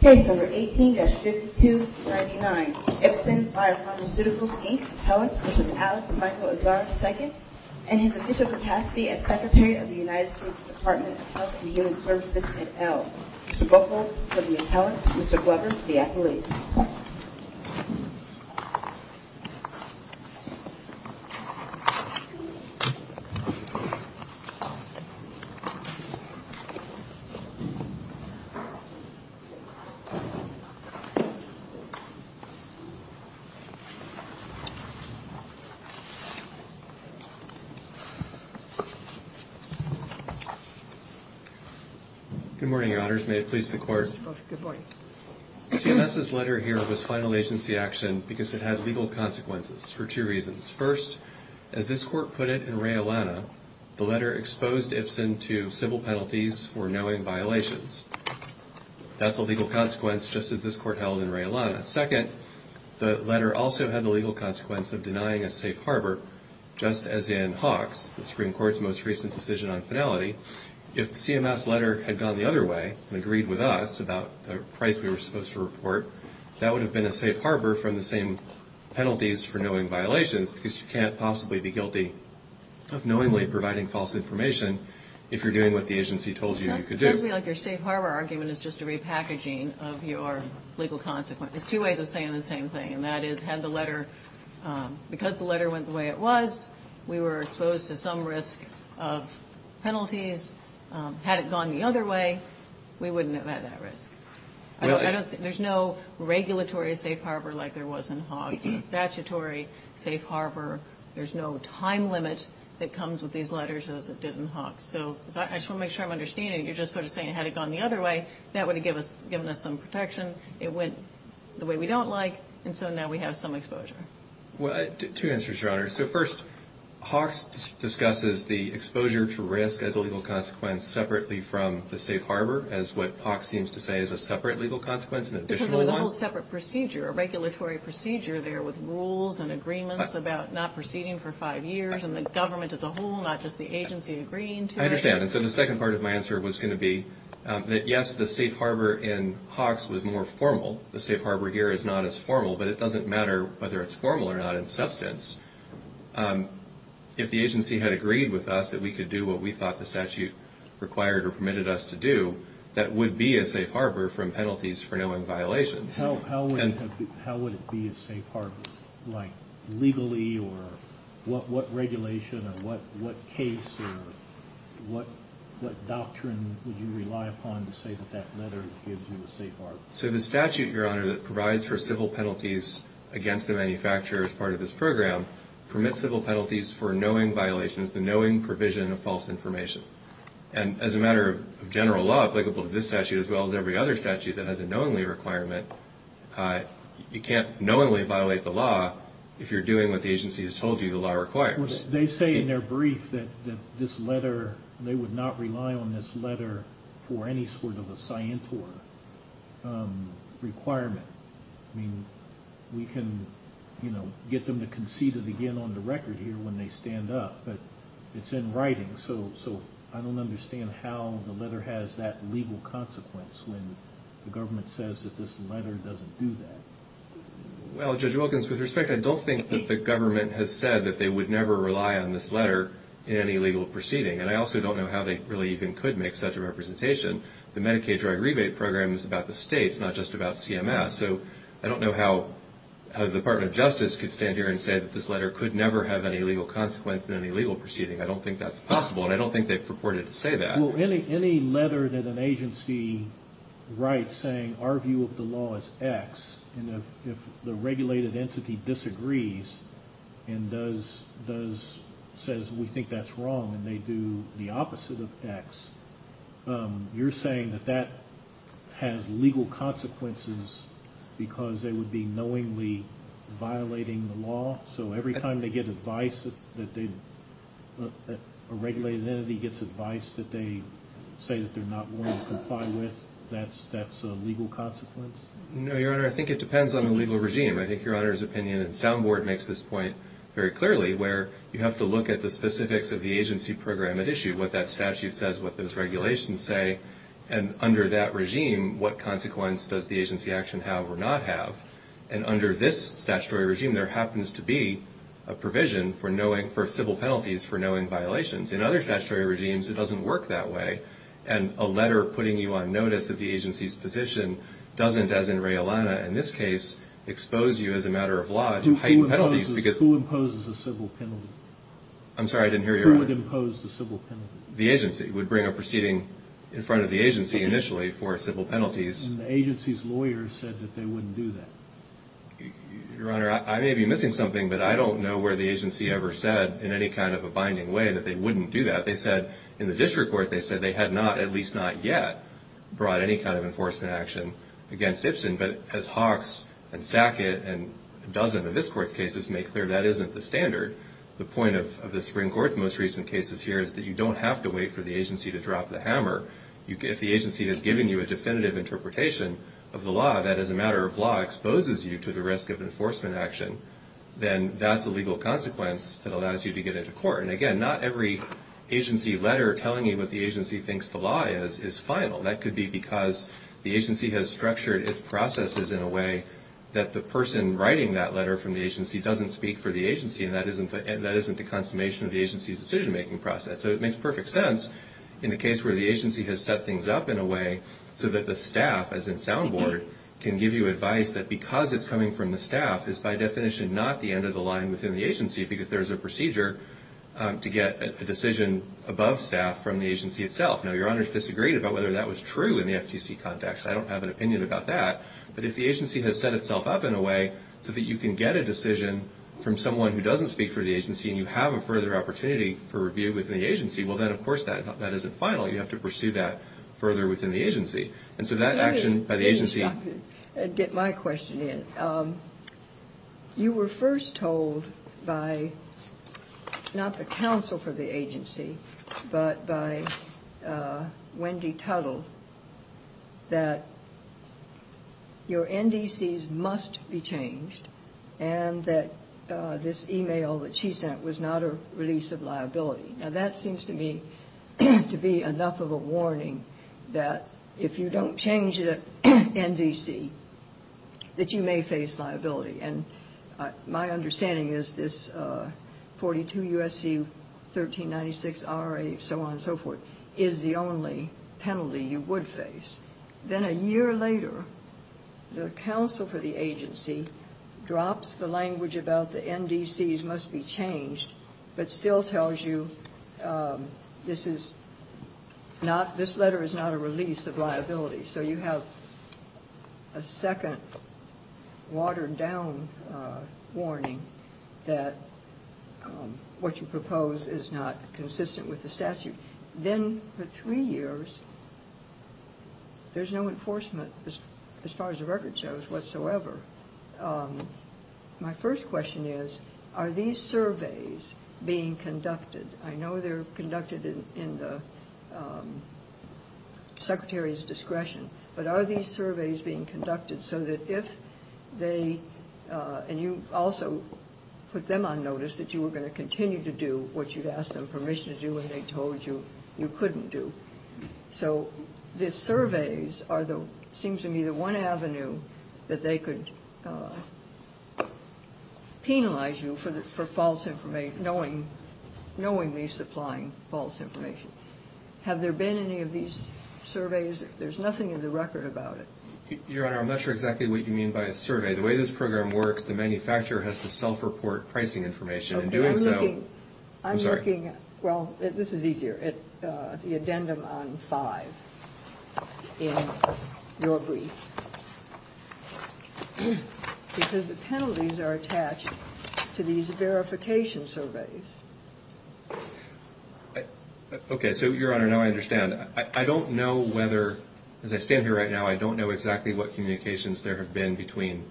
Case No. 18-5299 Ipsen Biopharmaceuticals, Inc. Alex Michael Azar, II and his official capacity as Secretary of the United States Department of Health and Human Services, itself. Mr. Butler, the attorney. Mr. Butler, the athlete. Good morning, Your Honors. May it please the Court? Good morning. CMS's letter here was final agency action because it had legal consequences for two reasons. First, as this Court put it in Ray-Alana, the letter exposed Ipsen to civil penalties for knowing violations. That's a legal consequence, just as this Court held in Ray-Alana. Second, the letter also had the legal consequence of denying a safe harbor, just as in Hawks, the Supreme Court's most recent decision on finality. If CMS's letter had gone the other way and agreed with us about the price we were supposed to report, that would have been a safe harbor from the same penalties for knowing violations because you can't possibly be guilty of knowingly providing false information if you're doing what the agency told you you could do. That sounds to me like your safe harbor argument is just a repackaging of your legal consequence. There's two ways of saying the same thing, and that is, had the letter, because the letter went the way it was, we were exposed to some risk of penalties. Had it gone the other way, we wouldn't have had that risk. There's no regulatory safe harbor like there was in Hawks. Statutory safe harbor, there's no time limit that comes with these letters as it did in Hawks. So I just want to make sure I'm understanding it. You're just sort of saying, had it gone the other way, that would have given us some protection. It went the way we don't like, and so now we have some exposure. Well, two answers, Your Honor. So first, Hawks discusses the exposure to risk as a legal consequence separately from the safe harbor as what Hawks seems to say is a separate legal consequence, an additional one. This is a whole separate procedure, a regulatory procedure there with rules and agreements about not proceeding for five years and the government as a whole, not just the agency agreeing to it. I understand, and so the second part of my answer was going to be that, yes, the safe harbor in Hawks was more formal. The safe harbor here is not as formal, but it doesn't matter whether it's formal or not in substance. If the agency had agreed with us that we could do what we thought the statute required or permitted us to do, that would be a safe harbor from penalties for knowing violations. How would it be a safe harbor, like legally or what regulation or what case or what doctrine would you rely upon to say that that letter gives you a safe harbor? So the statute, Your Honor, that provides for civil penalties against the manufacturer as part of this program permits civil penalties for knowing violations, the knowing provision of false information. And as a matter of general law applicable to this statute as well as every other statute that has a knowingly requirement, you can't knowingly violate the law if you're doing what the agency has told you the law requires. They say in their brief that this letter, they would not rely on this letter for any sort of a scientor requirement. I mean, we can, you know, get them to concede it again on the record here when they stand up, but it's in writing. So I don't understand how the letter has that legal consequence when the government says that this letter doesn't do that. Well, Judge Wilkins, with respect, I don't think that the government has said that they would never rely on this letter in any legal proceeding. And I also don't know how they really even could make such a representation. The Medicaid drug rebate program is about the states, not just about CMS. So I don't know how the Department of Justice could stand here and say that this letter could never have any legal consequence in any legal proceeding. I don't think that's possible, and I don't think they purported to say that. Well, any letter that an agency writes saying our view of the law is X, and if the regulated entity disagrees and says we think that's wrong, and they do the opposite of X, you're saying that that has legal consequences because they would be knowingly violating the law? So every time they get advice that a regulated entity gets advice that they say that they're not willing to comply with, that's a legal consequence? No, Your Honor, I think it depends on the legal regime. I think Your Honor's opinion at the sound board makes this point very clearly, where you have to look at the specifics of the agency program at issue, what that statute says, what those regulations say, and under that regime, what consequence does the agency action have or not have? And under this statutory regime, there happens to be a provision for civil penalties for knowing violations. In other statutory regimes, it doesn't work that way. And a letter putting you on notice of the agency's petition doesn't, as in Reylana in this case, expose you as a matter of law to heightened penalties. Who imposes the civil penalty? I'm sorry, I didn't hear you, Your Honor. Who would impose the civil penalty? The agency would bring a proceeding in front of the agency initially for civil penalties. And the agency's lawyer said that they wouldn't do that. Your Honor, I may be missing something, but I don't know where the agency ever said in any kind of a binding way that they wouldn't do that. They said in the district court, they said they had not, at least not yet, brought any kind of enforcement action against Ipsen. But as Hawks and Sackett and a dozen of this Court's cases make clear, that isn't the standard. The point of the Supreme Court's most recent cases here is that you don't have to wait for the agency to drop the hammer. If the agency has given you a definitive interpretation of the law, that is a matter of law, exposes you to the risk of enforcement action, then that's a legal consequence that allows you to get into court. And, again, not every agency letter telling you what the agency thinks the law is, is final. That could be because the agency has structured its processes in a way that the person writing that letter from the agency doesn't speak for the agency, and that isn't the consummation of the agency's decision-making process. So it makes perfect sense in the case where the agency has set things up in a way so that the staff, as in sound board, can give you advice that because it's coming from the staff is by definition not the end of the line within the agency because there's a procedure to get a decision above staff from the agency itself. Now, Your Honors disagreed about whether that was true in the FTC context. I don't have an opinion about that. But if the agency has set itself up in a way so that you can get a decision from someone who doesn't speak for the agency and you have a further opportunity for review within the agency, well, then, of course, that isn't final. You have to pursue that further within the agency. And so that action by the agency... Let me get my question in. You were first told by not the counsel for the agency but by Wendy Tuttle that your NDCs must be changed and that this email that she sent was not a release of liability. Now, that seems to me to be enough of a warning that if you don't change the NDC that you may face liability. And my understanding is this 42 U.S.C. 1396 R.A., so on and so forth, is the only penalty you would face. Then a year later, the counsel for the agency drops the language about the NDCs must be changed, but still tells you this letter is not a release of liability. So you have a second watered-down warning that what you propose is not consistent with the statute. Then the three years, there's no enforcement as far as the record shows whatsoever. My first question is, are these surveys being conducted? I know they're conducted in the secretary's discretion, but are these surveys being conducted so that if they... So the surveys seem to be the one avenue that they could penalize you for knowingly supplying false information. Have there been any of these surveys? There's nothing in the record about it. Your Honor, I'm not sure exactly what you mean by a survey. The way this program works, the manufacturer has to self-report pricing information. I'm looking at, well, this is easier, the addendum on 5 in your brief, because the penalties are attached to these verification surveys. Okay, so, Your Honor, now I understand. I don't know whether, as I stand here right now, I don't know exactly what communications there have been between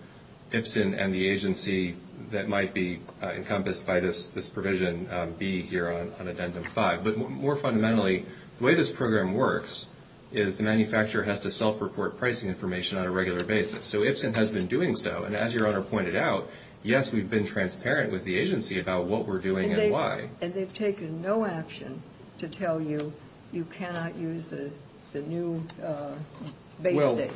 IPSN and the agency that might be encompassed by this provision B here on addendum 5. But more fundamentally, the way this program works is the manufacturer has to self-report pricing information on a regular basis. So IPSN has been doing so, and as Your Honor pointed out, yes, we've been transparent with the agency about what we're doing and why. And they've taken no action to tell you you cannot use the new basics. Well,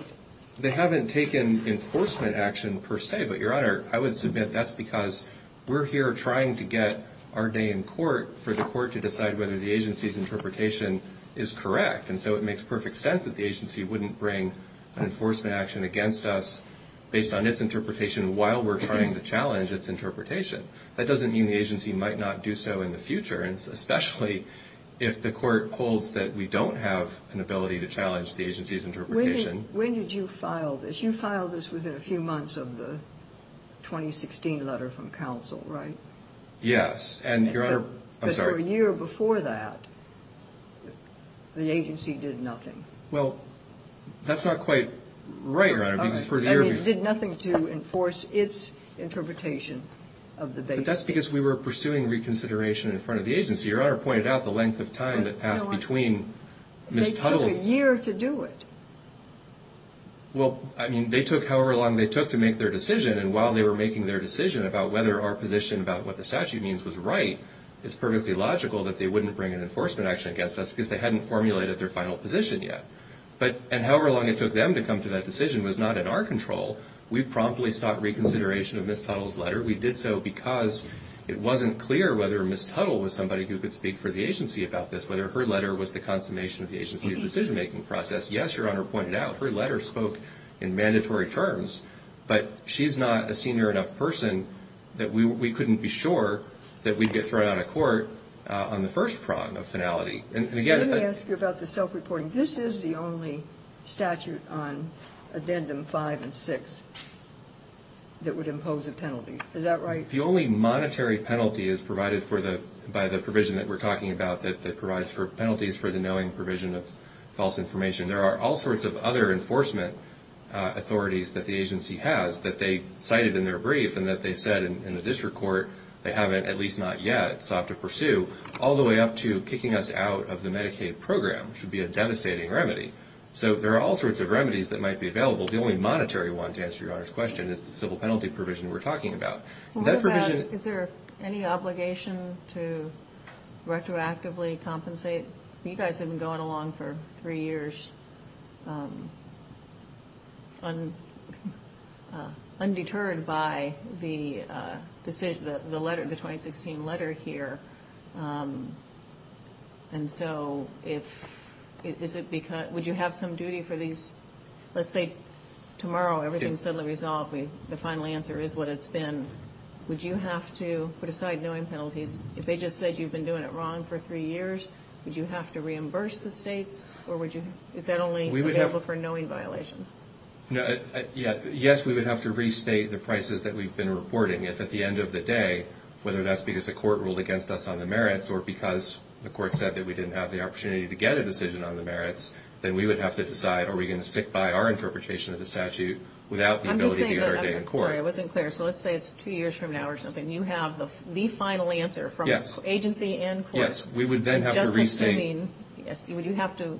they haven't taken enforcement action per se, but, Your Honor, I would submit that's because we're here trying to get our day in court for the court to decide whether the agency's interpretation is correct. And so it makes perfect sense that the agency wouldn't bring enforcement action against us based on its interpretation while we're trying to challenge its interpretation. That doesn't mean the agency might not do so in the future, especially if the court holds that we don't have an ability to challenge the agency's interpretation. When did you file this? You filed this within a few months of the 2016 letter from counsel, right? Yes. Because for a year before that, the agency did nothing. Well, that's not quite right, Your Honor. It did nothing to enforce its interpretation of the basics. But that's because we were pursuing reconsideration in front of the agency. Your Honor pointed out the length of time that passed between mis-tutoring. They took a year to do it. Well, I mean, they took however long they took to make their decision, and while they were making their decision about whether our position about what the statute means was right, it's perfectly logical that they wouldn't bring in enforcement action against us because they hadn't formulated their final position yet. And however long it took them to come to that decision was not in our control. We promptly stopped reconsideration of Ms. Tuttle's letter. We did so because it wasn't clear whether Ms. Tuttle was somebody who could speak for the agency about this, whether her letter was the consummation of the agency's decision-making process. Yes, Your Honor pointed out, her letter spoke in mandatory terms, but she's not a senior enough person that we couldn't be sure that we'd get thrown out of court on the first prong of finality. Let me ask you about the self-reporting. This is the only statute on Addendum 5 and 6 that would impose a penalty. Is that right? The only monetary penalty is provided by the provision that we're talking about that provides for penalties for the knowing provision of false information. There are all sorts of other enforcement authorities that the agency has that they cited in their brief and that they said in the district court they haven't, at least not yet, sought to pursue, all the way up to kicking us out of the Medicaid program, which would be a devastating remedy. So there are all sorts of remedies that might be available. The only monetary one, to answer Your Honor's question, is the civil penalty provision we're talking about. Is there any obligation to retroactively compensate? You guys have been going along for three years undeterred by the letter, the 2016 letter here. And so would you have some duty for these? Let's say tomorrow everything is suddenly resolved and the final answer is what it's been. Would you have to put aside knowing penalties? If they just said you've been doing it wrong for three years, would you have to reimburse the state? Or is that only available for knowing violations? Yes, we would have to restate the prices that we've been reporting. If at the end of the day, whether that's because the court ruled against us on the merits or because the court said that we didn't have the opportunity to get a decision on the merits, then we would have to decide are we going to stick by our interpretation of the statute without the ability to get our date in court. I wasn't clear. So let's say it's two years from now or something. You have the final answer from agency and courts. Yes, we would then have to restate. Would you have to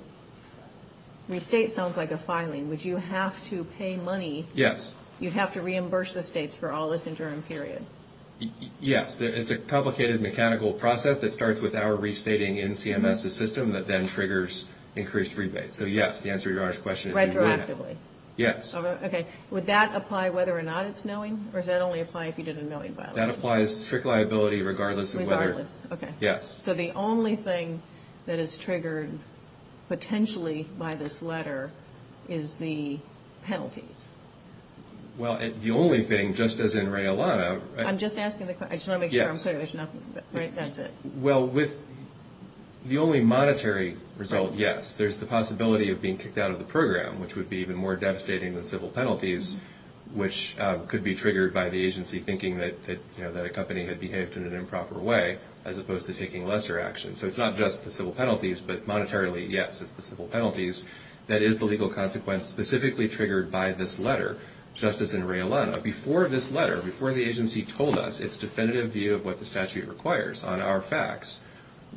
restate sounds like a filing. Would you have to pay money? Yes. You'd have to reimburse the states for all this interim period. Yes, it's a complicated mechanical process that starts with our restating in CMS' system that then triggers increased rebates. So yes, the answer to your honest question is yes. Retroactively? Yes. Okay, would that apply whether or not it's knowing? Or does that only apply if you did a knowing violation? That applies to strict liability regardless of whether. Regardless, okay. Yes. So the only thing that is triggered potentially by this letter is the penalty. Well, the only thing, just as in Ray-Alana. I'm just asking the question. I just want to make sure I'm clear. Yes. That's it. Well, the only monetary result, yes, there's the possibility of being kicked out of the program, which would be even more devastating than civil penalties, which could be triggered by the agency thinking that a company had behaved in an improper way as opposed to taking lesser action. So it's not just the civil penalties, but monetarily, yes, it's the civil penalties. That is the legal consequence specifically triggered by this letter, just as in Ray-Alana. Before this letter, before the agency told us its definitive view of what the statute requires on our facts,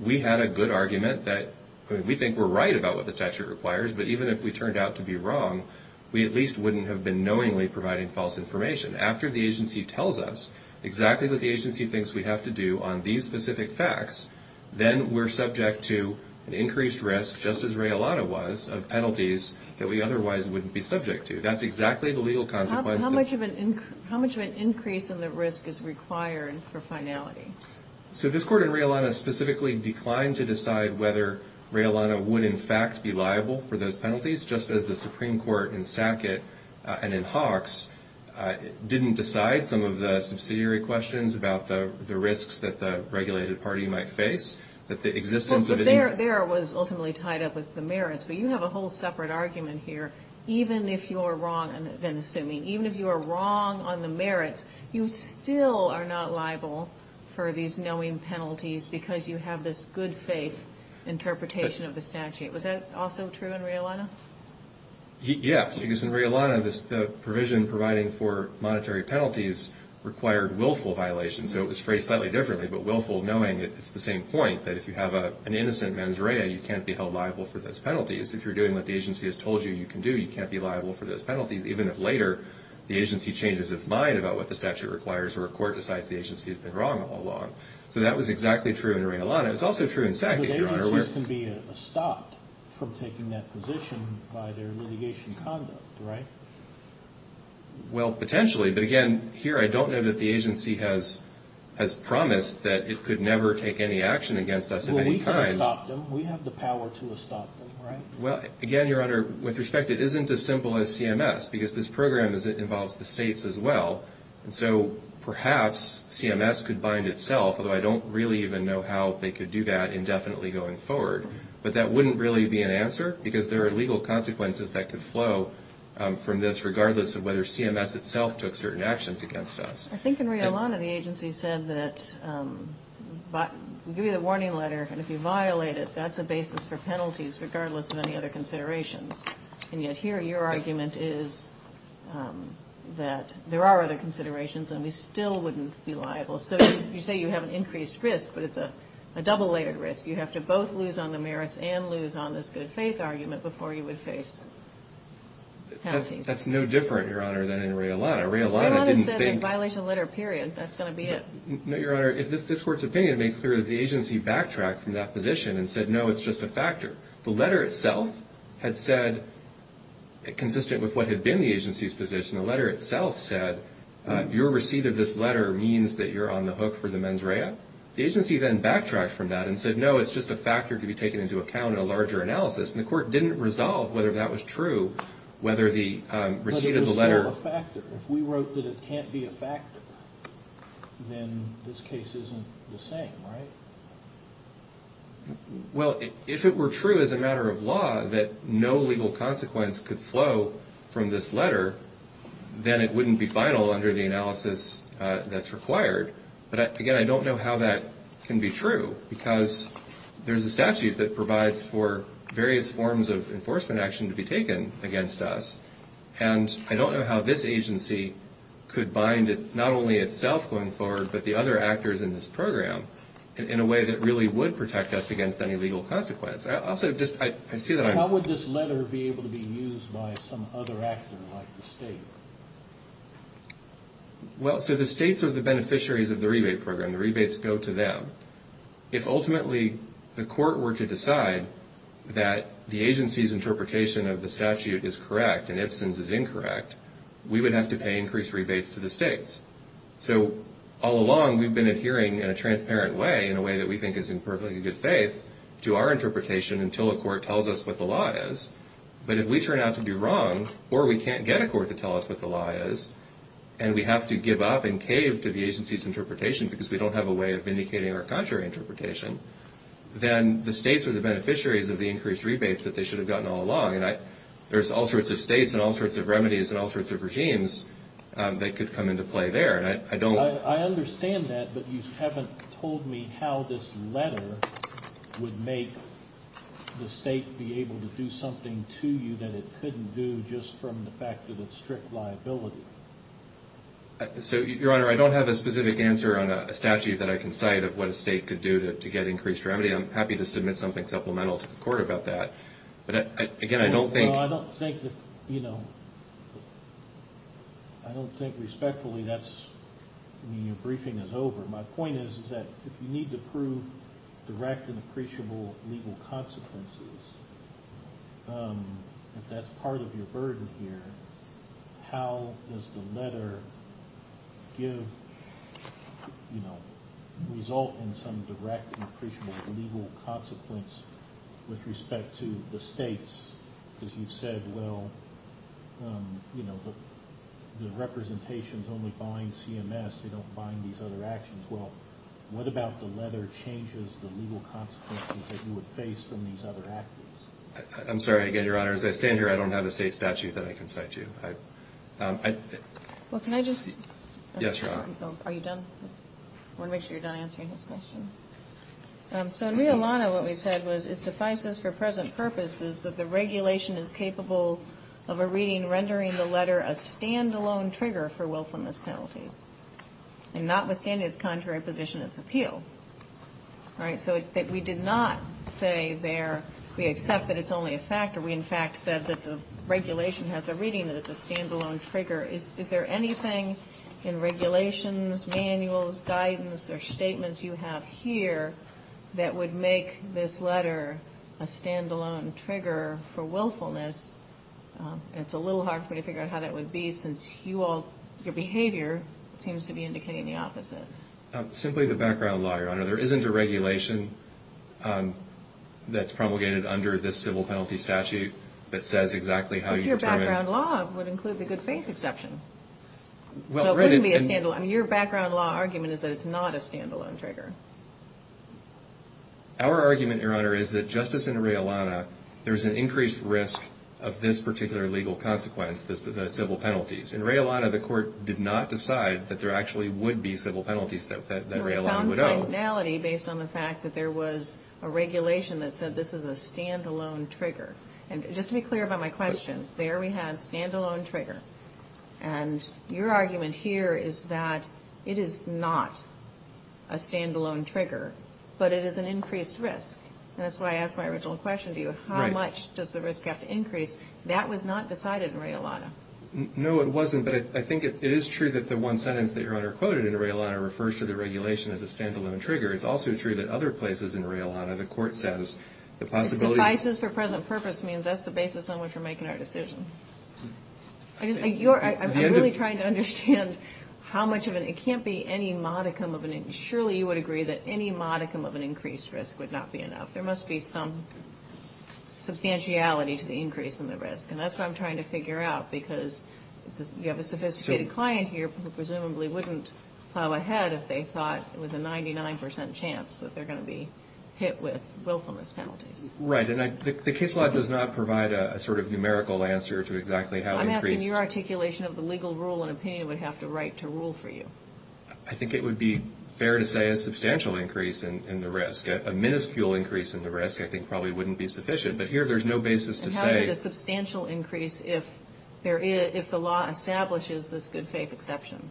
we had a good argument that we think we're right about what the statute requires, but even if we turned out to be wrong, we at least wouldn't have been knowingly providing false information. After the agency tells us exactly what the agency thinks we have to do on these specific facts, then we're subject to increased risk, just as Ray-Alana was, of penalties that we otherwise wouldn't be subject to. That's exactly the legal consequence. How much of an increase in the risk is required for finality? So this court in Ray-Alana specifically declined to decide whether Ray-Alana would, in fact, be liable for those penalties, just as the Supreme Court in Sackett and in Hawks didn't decide some of the subsidiary questions about the risks that the regulated party might face, that the existence of any... Well, there it was ultimately tied up with the merits, but you have a whole separate argument here. Even if you are wrong on the merits, you still are not liable for these knowing penalties because you have this good-faith interpretation of the statute. Was that also true in Ray-Alana? Yes, because in Ray-Alana, the provision providing for monetary penalties required willful violations. So it was phrased slightly differently, but willful, knowing that it's the same point, that if you have an innocent mens rea, you can't be held liable for those penalties. If you're doing what the agency has told you you can do, you can't be liable for those penalties, even if later the agency changes its mind about what the statute requires or a court decides the agency has been wrong all along. So that was exactly true in Ray-Alana. It's also true in Sackett, Your Honor. But agencies can be stopped from taking that position by their litigation conduct, right? Well, potentially, but again, here I don't know that the agency has promised that it could never take any action against us of any kind. We can't stop them. We have the power to stop them, right? Well, again, Your Honor, with respect, it isn't as simple as CMS, because this program involves the states as well, and so perhaps CMS could bind itself, although I don't really even know how they could do that indefinitely going forward. But that wouldn't really be an answer, because there are legal consequences that could flow from this, regardless of whether CMS itself took certain actions against us. I think in Ray-Alana the agency said that we give you a warning letter, and if you violate it, that's the basis for penalties, regardless of any other considerations. And yet here your argument is that there are other considerations, and we still wouldn't be liable. So you say you have an increased risk, but it's a double-layered risk. You have to both lose on the merits and lose on this good faith argument before you would face penalty. That's no different, Your Honor, than in Ray-Alana. Ray-Alana said a violation letter, period. That's going to be it. No, Your Honor. This Court's opinion makes clear that the agency backtracked from that position and said, no, it's just a factor. The letter itself had said, consistent with what had been the agency's position, the letter itself said, your receipt of this letter means that you're on the hook for the mens rea. The agency then backtracked from that and said, no, it's just a factor to be taken into account in a larger analysis. And the Court didn't resolve whether that was true, whether the receipt of the letter. It's just a factor. If we wrote that it can't be a factor, then this case isn't the same, right? Well, if it were true as a matter of law that no legal consequence could flow from this letter, then it wouldn't be final under the analysis that's required. But, again, I don't know how that can be true because there's a statute that provides for various forms of enforcement action to be taken against us, and I don't know how this agency could bind it, not only itself going forward, but the other actors in this program in a way that really would protect us against any legal consequence. Also, I see that I'm... How would this letter be able to be used by some other actor like the State? Well, so the States are the beneficiaries of the rebate program. The rebates go to them. If ultimately the Court were to decide that the agency's interpretation of the statute is correct and its instance is incorrect, we would have to pay increased rebates to the States. So all along, we've been adhering in a transparent way, in a way that we think is in perfectly good faith, to our interpretation until the Court tells us what the law is. But if we turn out to be wrong or we can't get a Court to tell us what the law is because we don't have a way of indicating our contrary interpretation, then the States are the beneficiaries of the increased rebates that they should have gotten all along. And there's all sorts of States and all sorts of remedies and all sorts of regimes that could come into play there. And I don't... I understand that, but you haven't told me how this letter would make the State be able to do something to you that it couldn't do just from the fact that it's strict liability. So, Your Honor, I don't have a specific answer on a statute that I can cite of what a State could do to get increased remedy. I'm happy to submit something supplemental to the Court about that. But again, I don't think... Well, I don't think that, you know... I don't think respectfully that's... your briefing is over. My point is that if you need to prove direct and appreciable legal consequences, if that's part of your burden here, how does the letter give, you know, result in some direct and appreciable legal consequence with respect to the States? Because you've said, well, you know, the representations only bind CMS. They don't bind these other actions. Well, what about the letter changes the legal consequences that you would face from these other actions? I'm sorry. Again, Your Honor, as I stand here, I don't have a State statute that I can cite to you. I... Well, can I just... Yes, Your Honor. Are you done? I want to make sure you're done answering his question. So, in Rio Llano, what we said was it suffices for present purposes that the regulation is capable of a reading rendering the letter a standalone trigger for willfulness penalties and not within its contrary position of appeal. All right? So we did not say there we accept that it's only a factor. We, in fact, said that the regulation has a reading that it's a standalone trigger. Is there anything in regulations, manuals, guidance, or statements you have here that would make this letter a standalone trigger for willfulness? It's a little hard for me to figure out how that would be since you all, your behavior seems to be indicating the opposite. Simply the background law, Your Honor. There isn't a regulation that's propagated under this civil penalty statute that says exactly how you determine... But your background law would include the good faith exception. So it wouldn't be a standalone. Your background law argument is that it's not a standalone trigger. Our argument, Your Honor, is that just as in Rea Llano, there's an increased risk of this particular legal consequence, the civil penalties. In Rea Llano, the court did not decide that there actually would be civil penalties that Rea Llano would owe. There was some functionality based on the fact that there was a regulation that said this is a standalone trigger. And just to be clear about my question, there we have standalone trigger. And your argument here is that it is not a standalone trigger, but it is an increased risk. That's why I asked my original question to you. How much does the risk have to increase? That was not decided in Rea Llano. No, it wasn't, but I think it is true that the one sentence that Your Honor quoted in Rea Llano refers to the regulation as a standalone trigger. It's also true that other places in Rea Llano, the court says the possibility... Increased or present purpose means that's the basis on which we're making our decision. I'm really trying to understand how much of an... It can't be any modicum of an... Surely you would agree that any modicum of an increased risk would not be enough. There must be some substantiality to the increase in the risk. And that's what I'm trying to figure out because you have a sophisticated client here who presumably wouldn't come ahead if they thought it was a 99% chance that they're going to be hit with willfulness penalties. Right, and the case law does not provide a sort of numerical answer to exactly how increased... I'm asking your articulation of the legal rule and opinion we have to write to rule for you. I think it would be fair to say a substantial increase in the risk. A minuscule increase in the risk I think probably wouldn't be sufficient, but here there's no basis to say... How is it a substantial increase if the law establishes this good faith exception?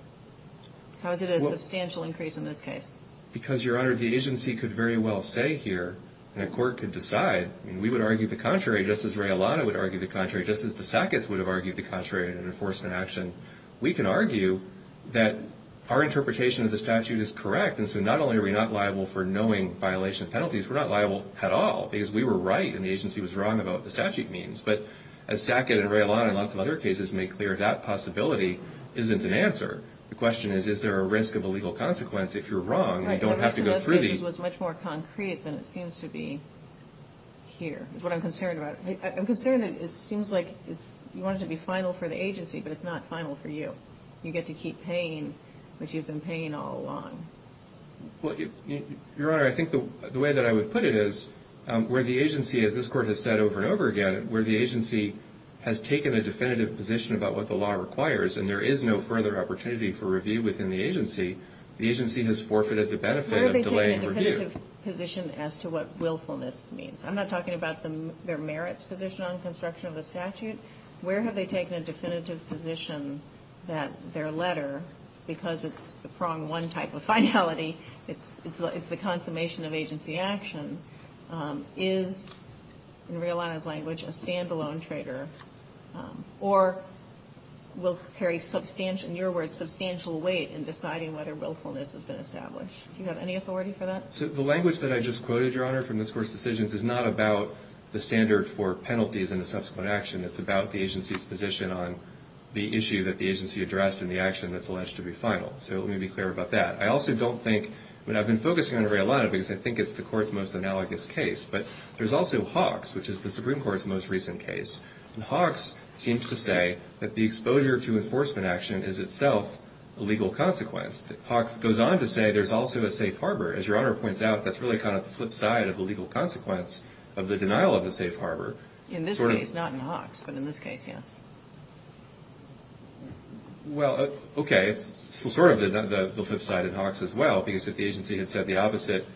How is it a substantial increase in this case? Because, Your Honor, the agency could very well say here, and a court could decide, and we would argue the contrary just as Reylano would argue the contrary, just as the Sackett's would have argued the contrary in an enforcement action. We can argue that our interpretation of the statute is correct, and so not only are we not liable for knowing violation of penalties, we're not liable at all because we were right and the agency was wrong about what the statute means. But as Sackett and Reylano and lots of other cases make clear, that possibility isn't an answer. The question is, is there a risk of a legal consequence? If you're wrong, you don't have to go through these. Right, but the other case was much more concrete than it seems to be here, is what I'm concerned about. I'm concerned that it seems like you want it to be final for the agency, but it's not final for you. You get to keep paying what you've been paying all along. Your Honor, I think the way that I would put it is where the agency, as this court has said over and over again, where the agency has taken a definitive position about what the law requires and there is no further opportunity for review within the agency, the agency has forfeited the benefit of delaying review. Where have they taken a definitive position as to what willfulness means? I'm not talking about their merits position on construction of the statute. Where have they taken a definitive position that their letter, because it's from one type of finality, it's the consummation of agency action, is, in Reylano's language, a stand-alone trigger, or will carry substantial, in your words, substantial weight in deciding whether willfulness has been established. Do you have any authority for that? The language that I just quoted, Your Honor, from this Court's decisions, is not about the standard for penalties in a subsequent action. It's about the agency's position on the issue that the agency addressed and the action that's alleged to be final. So let me be clear about that. I also don't think, and I've been focusing on Reylano, because I think it's the Court's most analogous case, but there's also Hawks, which is the Supreme Court's most recent case. Hawks seems to say that the exposure to enforcement action is itself a legal consequence. Hawks goes on to say there's also a safe harbor. As Your Honor points out, that's really kind of the flip side of the legal consequence of the denial of the safe harbor. In this case, not in Hawks, but in this case, yes. Well, okay, sort of the flip side in Hawks as well, because if the agency had said the opposite,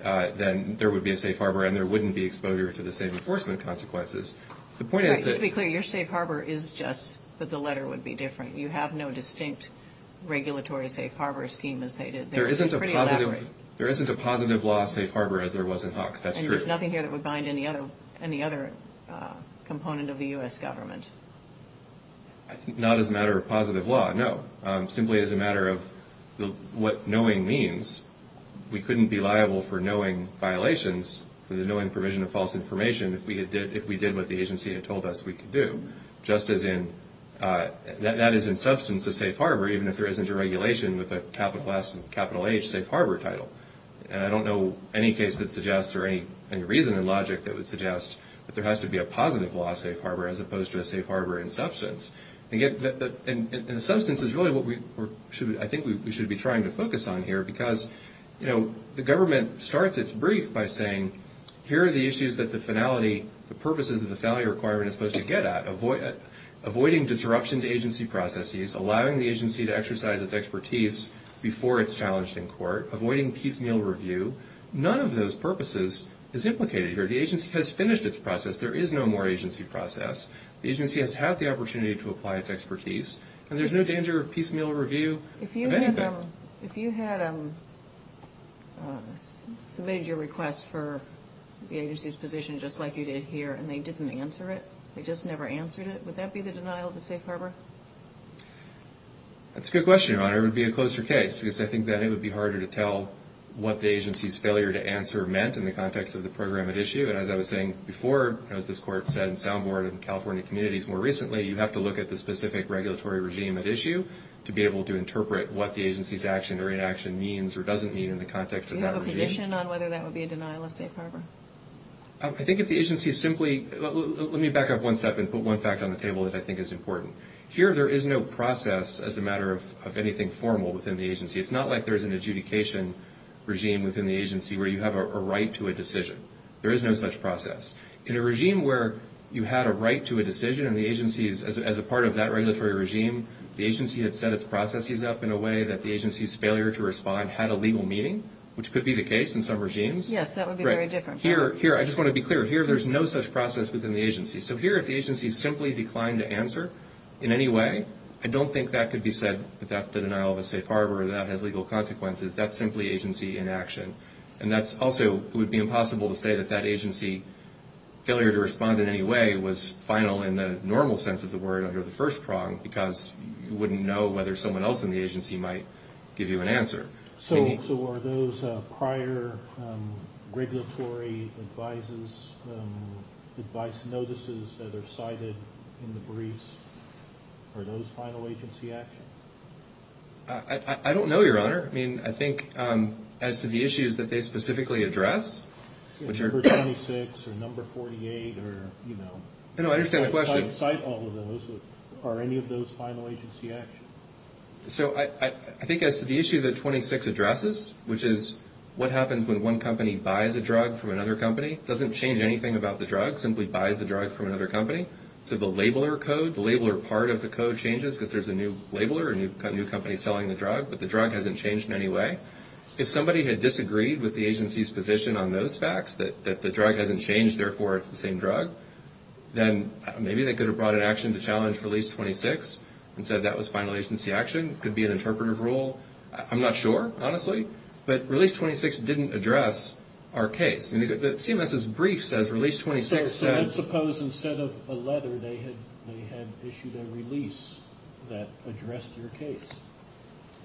then there would be a safe harbor and there wouldn't be exposure to the same enforcement consequences. Just to be clear, your safe harbor is just that the letter would be different. You have no distinct regulatory safe harbor scheme as they did. There isn't a positive law of safe harbor as there was in Hawks. And there's nothing here that would bind any other component of the U.S. government. Not as a matter of positive law, no. Simply as a matter of what knowing means. We couldn't be liable for knowing violations, for the knowing provision of false information, if we did what the agency had told us we could do, just as in that is in substance a safe harbor, even if there isn't a regulation with a capital S and capital H safe harbor title. And I don't know any case that suggests or any reason and logic that would suggest that there has to be a positive law of safe harbor as opposed to a safe harbor in substance. In substance is really what I think we should be trying to focus on here because the government starts its brief by saying, here are the issues that the purposes of the salary requirement is supposed to get at. Avoiding disruption to agency processes, allowing the agency to exercise its expertise before it's challenged in court, avoiding piecemeal review. None of those purposes is implicated here. The agency has finished its process. There is no more agency process. The agency has had the opportunity to apply its expertise, and there's no danger of piecemeal review. If you had submitted your request for the agency's position just like you did here and they didn't answer it, they just never answered it, would that be the denial of a safe harbor? That's a good question, Your Honor. It would be a closer case because I think that it would be harder to tell what the agency's failure to answer meant in the context of the program at issue. And as I was saying before, as this Court said, sound board and California communities more recently, you have to look at the specific regulatory regime at issue to be able to interpret what the agency's action or inaction means or doesn't mean in the context of that regime. Do you have a position on whether that would be a denial of safe harbor? I think if the agency simply – let me back up one step and put one fact on the table that I think is important. Here there is no process as a matter of anything formal within the agency. It's not like there's an adjudication regime within the agency where you have a right to a decision. There is no such process. In a regime where you have a right to a decision and the agency is a part of that regulatory regime, the agency has set its processes up in a way that the agency's failure to respond had a legal meaning, which could be the case in some regimes. Yes, that would be very different. Here I just want to be clear. Here there's no such process within the agency. So here if the agency simply declined to answer in any way, I don't think that could be said that that's the denial of a safe harbor or that has legal consequences. That's simply agency inaction. And that also would be impossible to say that that agency failure to respond in any way was final in the normal sense of the word under the first prong because you wouldn't know whether someone else in the agency might give you an answer. So were those prior regulatory advice notices that are cited in the briefs, were those final agency actions? I don't know, Your Honor. I mean, I think as to the issues that they specifically address. Number 26 or number 48 or, you know. I know, I understand the question. Are any of those final agency actions? So I think as to the issue that 26 addresses, which is what happens when one company buys a drug from another company, it doesn't change anything about the drug. It simply buys the drug from another company. So the labeler code, the labeler part of the code changes because there's a new labeler and you've got a new company selling the drug, but the drug hasn't changed in any way. If somebody had disagreed with the agency's position on those facts, that the drug hasn't changed, therefore it's the same drug, then maybe they could have brought an action to challenge release 26 and said that was final agency action. It could be an interpretive rule. I'm not sure, honestly. But release 26 didn't address our case. The CMS's brief says release 26 said. Let's suppose instead of a letter they had issued a release that addressed your case.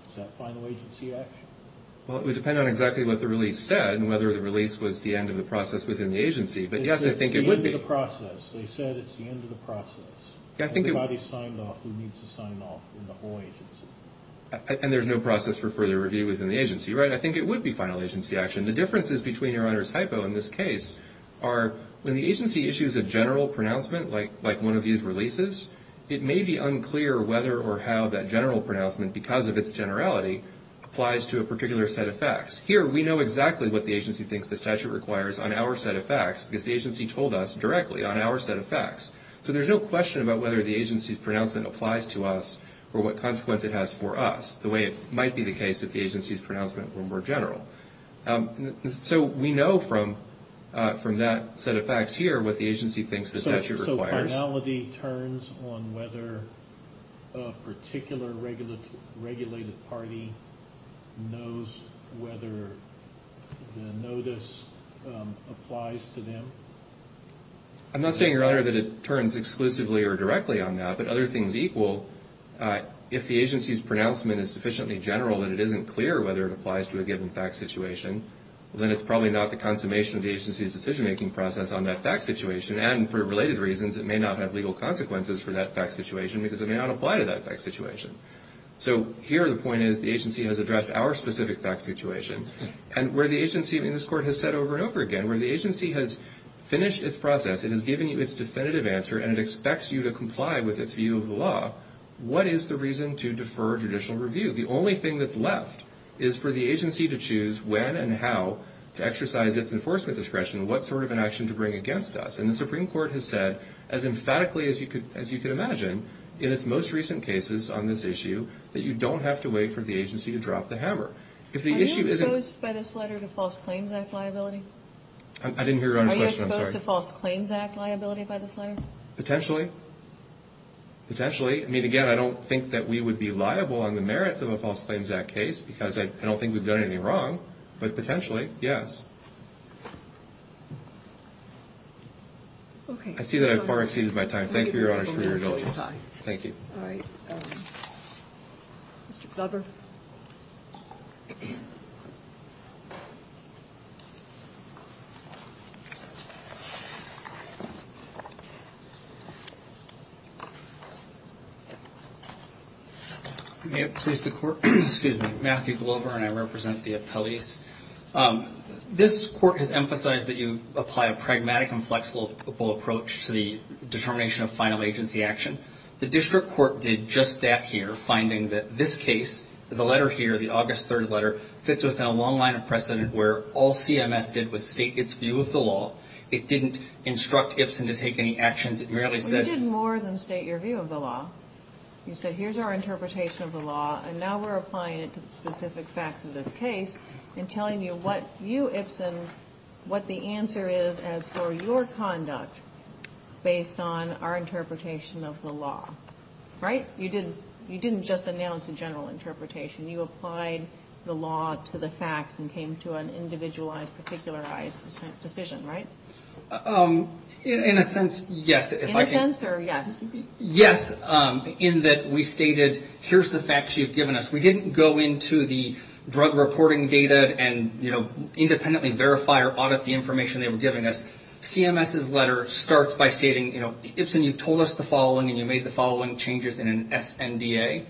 Is that final agency action? Well, it would depend on exactly what the release said and whether the release was the end of the process within the agency. But, yes, I think it would be. It's the end of the process. They said it's the end of the process. Somebody signed off who needs to sign off in the whole agency. And there's no process for further review within the agency, right? I think it would be final agency action. The differences between your other typos in this case are when the agency issues a general pronouncement like one of these releases, it may be unclear whether or how that general pronouncement, because of its generality, applies to a particular set of facts. Here we know exactly what the agency thinks the statute requires on our set of facts because the agency told us directly on our set of facts. So there's no question about whether the agency's pronouncement applies to us or what consequence it has for us, the way it might be the case if the agency's pronouncement were more general. So we know from that set of facts here what the agency thinks the statute requires. So finality turns on whether a particular regulated party knows whether the notice applies to them? I'm not saying, Your Honor, that it turns exclusively or directly on that, but other things equal, if the agency's pronouncement is sufficiently general that it isn't clear whether it applies to a given fact situation, then it's probably not the consummation of the agency's decision-making process on that fact situation, and for related reasons it may not have legal consequences for that fact situation because it may not apply to that fact situation. So here the point is the agency has addressed our specific fact situation, and where the agency in this court has said over and over again, where the agency has finished its process, it has given you its definitive answer, and it expects you to comply with its view of the law, what is the reason to defer judicial review? The only thing that's left is for the agency to choose when and how to exercise its enforcement discretion and what sort of an action to bring against us, and the Supreme Court has said as emphatically as you can imagine in its most recent cases on this issue that you don't have to wait for the agency to drop the hammer. Are you opposed by this letter to False Claims Act liability? I didn't hear Your Honor's question, I'm sorry. Are you opposed to False Claims Act liability by this letter? Potentially. Potentially. I mean, again, I don't think that we would be liable on the merits of a False Claims Act case because I don't think we've done anything wrong, but potentially, yes. I see that I have far exceeded my time. Thank you, Your Honor, for your indulgence. Thank you. Thank you. May it please the Court, excuse me, Matthew Glover and I represent the appellees. This Court has emphasized that you apply a pragmatic and flexible approach to the determination of final agency action. The District Court did just that here, finding that this case, the letter here, the August 3rd letter, fits within a long line of precedent where all CMS did was state its view of the law. It didn't instruct Ipsen to take any action. It merely said... We did more than state your view of the law. You said, here's our interpretation of the law, and now we're applying it to specific facts of this case and telling you what you, Ipsen, what the answer is as for your conduct based on our interpretation of the law, right? You didn't just announce a general interpretation. You applied the law to the facts and came to an individualized, particularized decision, right? In a sense, yes. In a sense or yes? Yes, in that we stated, here's the facts you've given us. We didn't go into the drug reporting data and independently verify or audit the information they've given us. CMS's letter starts by stating, you know, Ipsen, you told us the following, and you made the following changes in an SNDA.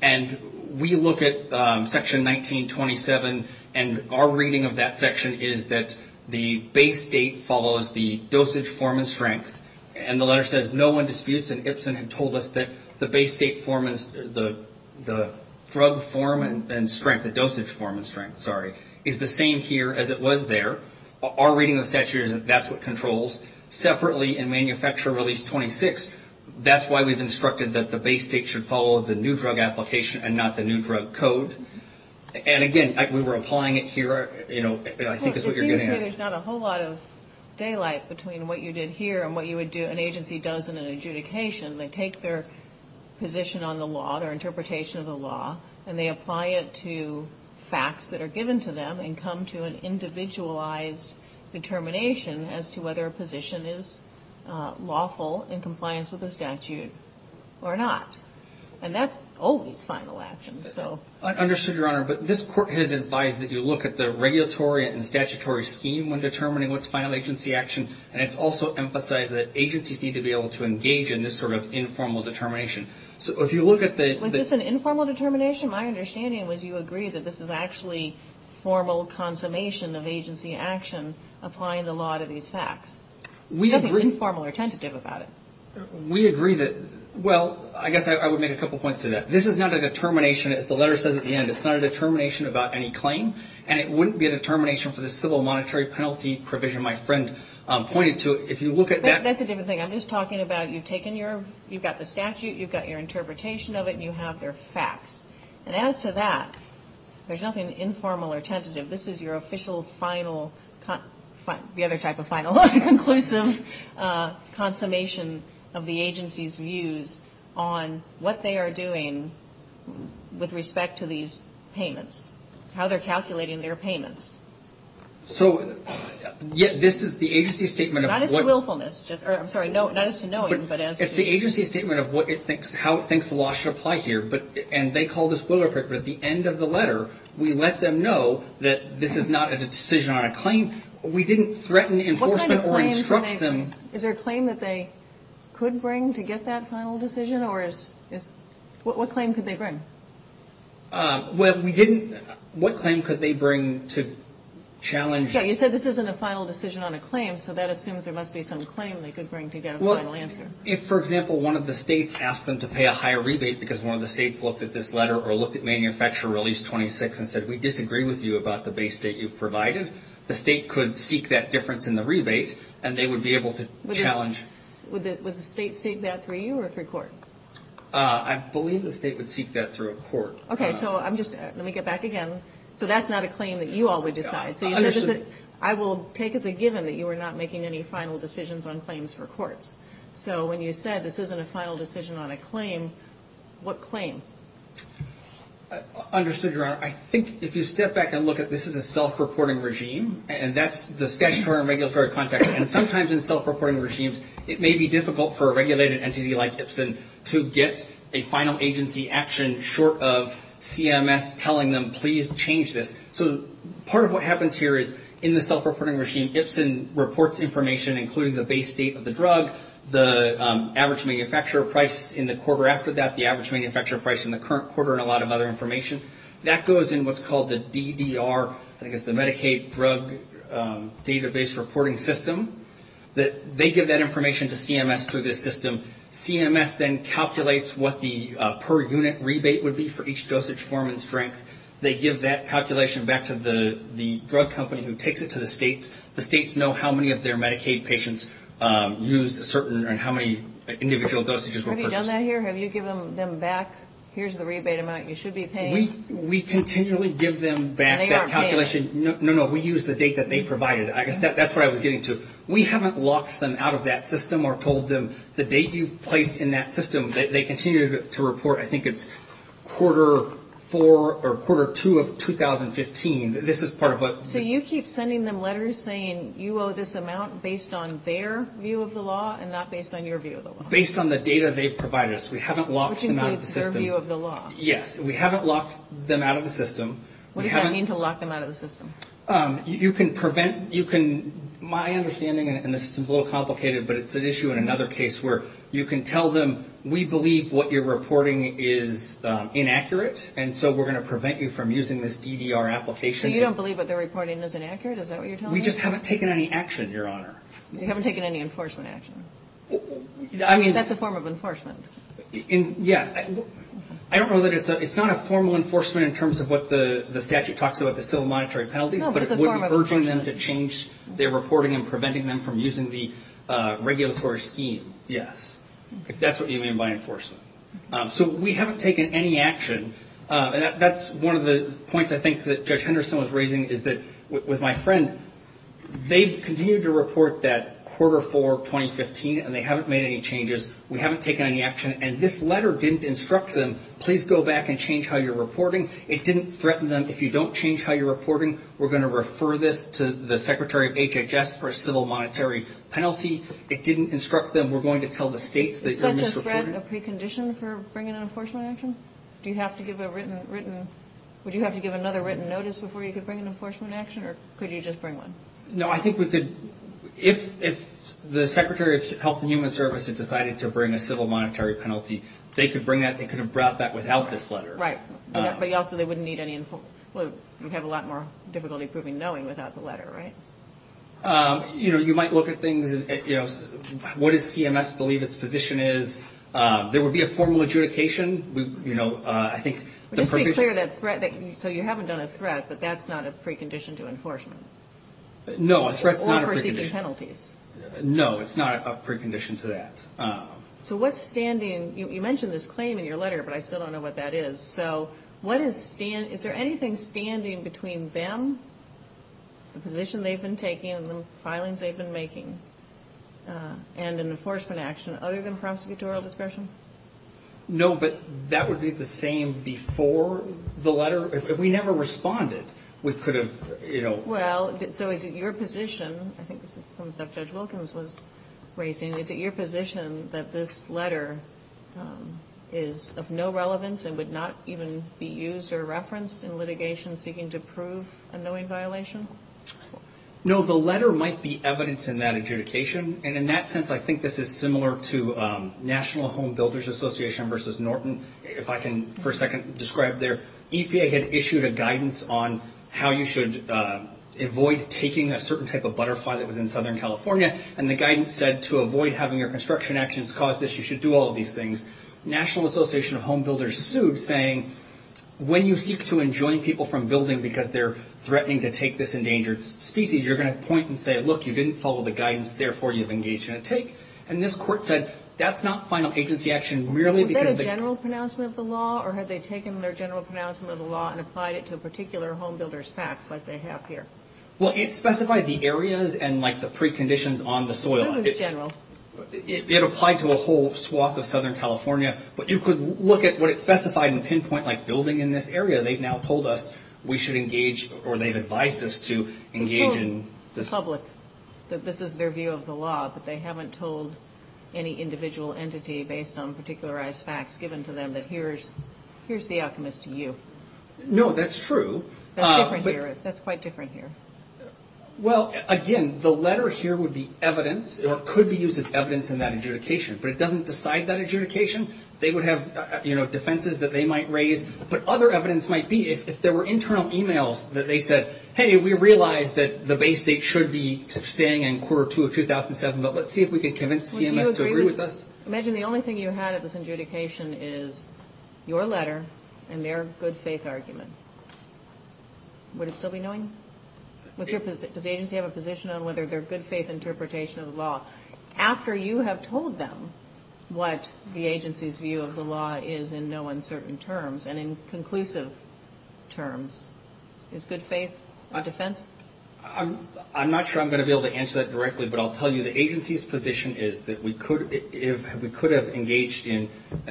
And we look at Section 1927, and our reading of that section is that the base date follows the dosage form and strength. And the letter says, no one disputes that Ipsen had told us that the base date form and the drug form and strength, the dosage form and strength, sorry, is the same here as it was there. Our reading of the statute is that that's what controls. Separately, in Manufacturer Release 26, that's why we've instructed that the base date should follow the new drug application and not the new drug code. And again, we were applying it here, you know, I think is what you're going to ask. There's not a whole lot of daylight between what you did here and what you would do, an agency does in an adjudication. They take their position on the law, their interpretation of the law, and they apply it to facts that are given to them and come to an individualized determination as to whether a position is lawful in compliance with the statute or not. And that's always final action, so. I understand, Your Honor, but this Court has advised that you look at the regulatory and statutory scheme when determining what's final agency action, and it's also emphasized that agencies need to be able to engage in this sort of informal determination. So if you look at the... Was this an informal determination? My understanding was you agree that this is actually formal consummation of agency action applying the law to these facts. We agree... Nothing informal or tentative about it. We agree that... Well, I guess I would make a couple points to that. This is not a determination, as the letter says at the end, it's not a determination about any claim, and it wouldn't be a determination for the civil monetary penalty provision my friend pointed to. If you look at that... That's a different thing. I'm just talking about you've taken your... You've got the statute, you've got your interpretation of it, and you have their facts. And as to that, there's nothing informal or tentative. This is your official final... The other type of final... Conclusive consummation of the agency's views on what they are doing with respect to these payments, how they're calculating their payments. So this is the agency's statement of... I'm sorry, not as to knowing, but as... It's the agency's statement of how it thinks the law should apply here, and they call this boilerplate, but at the end of the letter, we let them know that this is not a decision on a claim. We didn't threaten enforcement or instruct them... Is there a claim that they could bring to get that final decision, or is... What claim could they bring? Well, we didn't... What claim could they bring to challenge... Okay, you said this isn't a final decision on a claim, so that assumes there must be some claim they could bring to get a final answer. Well, if, for example, one of the states asked them to pay a higher rebate because one of the states looked at this letter or looked at Manufacturer Release 26 and said, we disagree with you about the base that you've provided, the state could seek that difference in the rebate, and they would be able to challenge... Would the state seek that through you or through court? I believe the state would seek that through a court. Okay, so I'm just... Let me get back again. So that's not a claim that you all would decide. I will take as a given that you were not making any final decisions on claims for courts. So when you said this isn't a final decision on a claim, what claim? Understood, Your Honor. I think if you step back and look at this as a self-reporting regime, and that's the statutory and regulatory context, and sometimes in self-reporting regimes it may be difficult for a regulated entity like Ipsin to get a final agency action short of CMS telling them, please change this. So part of what happens here is in the self-reporting regime, Ipsin reports information including the base date of the drug, the average manufacturer price in the quarter after that, the average manufacturer price in the current quarter, and a lot of other information. That goes in what's called the DDR, I guess the Medicaid Drug Database Reporting System. They give that information to CMS through this system. CMS then calculates what the per unit rebate would be for each dosage, form, and strength. They give that calculation back to the drug company who takes it to the states. The states know how many of their Medicaid patients use a certain or how many individual dosages were purchased. Have you done that here? Have you given them back, here's the rebate amount you should be paying? We continually give them back that calculation. No, no, we use the date that they provided. That's what I was getting to. We haven't locked them out of that system or told them the date you placed in that system. They continue to report, I think it's quarter four or quarter two of 2015. This is part of what... So you keep sending them letters saying you owe this amount based on their view of the law and not based on your view of the law. Based on the data they provided us. We haven't locked them out of the system. Which is based on their view of the law. Yes. We haven't locked them out of the system. What does that mean to lock them out of the system? You can prevent, you can, my understanding, and this is a little complicated, but it's an issue in another case where you can tell them we believe what you're reporting is inaccurate and so we're going to prevent you from using this DDR application. So you don't believe what they're reporting is inaccurate? Is that what you're telling me? We just haven't taken any action, Your Honor. You haven't taken any enforcement action? I mean... That's a form of enforcement. Yes. I don't know that it's, it's not a formal enforcement in terms of what the statute talks about, the civil monetary penalty, but it would be urging them to change their reporting and preventing them from using the regulatory scheme. Yes. If that's what you mean by enforcement. So we haven't taken any action. That's one of the points I think that Judge Henderson was raising is that with my friend, they've continued to report that quarter 4, 2015, and they haven't made any changes. We haven't taken any action. And this letter didn't instruct them, please go back and change how you're reporting. It didn't threaten them, if you don't change how you're reporting, we're going to refer this to the Secretary of HHS for a civil monetary penalty. It didn't instruct them, we're going to tell the states... Is that just a precondition for bringing an enforcement action? Do you have to give a written, written... Would you have to give another written notice before you could bring an enforcement action, or could you just bring one? No, I think we could... If the Secretary of Health and Human Services decided to bring a civil monetary penalty, they could bring that, they could have brought that without this letter. Right. But also they wouldn't need any... We'd have a lot more difficulty proving knowing without the letter, right? You know, you might look at things, you know, what does CMS believe its position is? There would be a formal adjudication, you know, I think... Just to be clear, so you haven't done a threat, but that's not a precondition to enforcement? No, a threat's not a precondition. Or for seeking penalties? No, it's not a precondition to that. So what's standing... You mentioned this claim in your letter, but I still don't know what that is. So what is standing... Is there anything standing between them, the position they've been taking, the filings they've been making, and an enforcement action other than prosecutorial discretion? No, but that would be the same before the letter. We never responded. We could have, you know... Well, so is it your position... I think this is something Judge Wilkins was raising. Is it your position that this letter is of no relevance and would not even be used or referenced in litigation seeking to prove a knowing violation? No, the letter might be evidence in that adjudication, and in that sense I think this is similar to National Home Builders Association v. Norton. If I can for a second describe their... ...on how you should avoid taking a certain type of butterfly that was in Southern California, and the guidance said to avoid having your construction actions cause this, you should do all of these things. National Association of Home Builders sued saying when you seek to enjoin people from building because they're threatening to take this endangered species, you're going to point and say, look, you didn't follow the guidance, therefore you've engaged in a take. And this court said that's not final agency action merely because... Was that a general pronouncement of the law, or had they taken their general pronouncement of the law and applied it to a particular home builder's facts like they have here? Well, it specified the areas and like the preconditions on the soil. It was general. It applied to a whole swath of Southern California, but you could look at what it specified in pinpoint like building in this area. They've now told us we should engage or they've advised us to engage in... The public, that this is their view of the law, but they haven't told any individual entity based on particularized facts given to them that here's the alchemist to you. No, that's true. That's different here. That's quite different here. Well, again, the letter here would be evidence or could be used as evidence in that adjudication, but it doesn't decide that adjudication. They would have, you know, defenses that they might raise, but other evidence might be if there were internal e-mails that they said, hey, we realize that the Bay State should be staying in quarter two of 2007, but let's see if we can convince CMS to agree with us. Imagine the only thing you had at this adjudication is your letter and their good faith argument. Would it still be going? Does the agency have a position on whether their good faith interpretation of the law, after you have told them what the agency's view of the law is in no uncertain terms and in conclusive terms? Is good faith a defense? I'm not sure I'm going to be able to answer that directly, but I'll tell you the agency's position is that we could have engaged in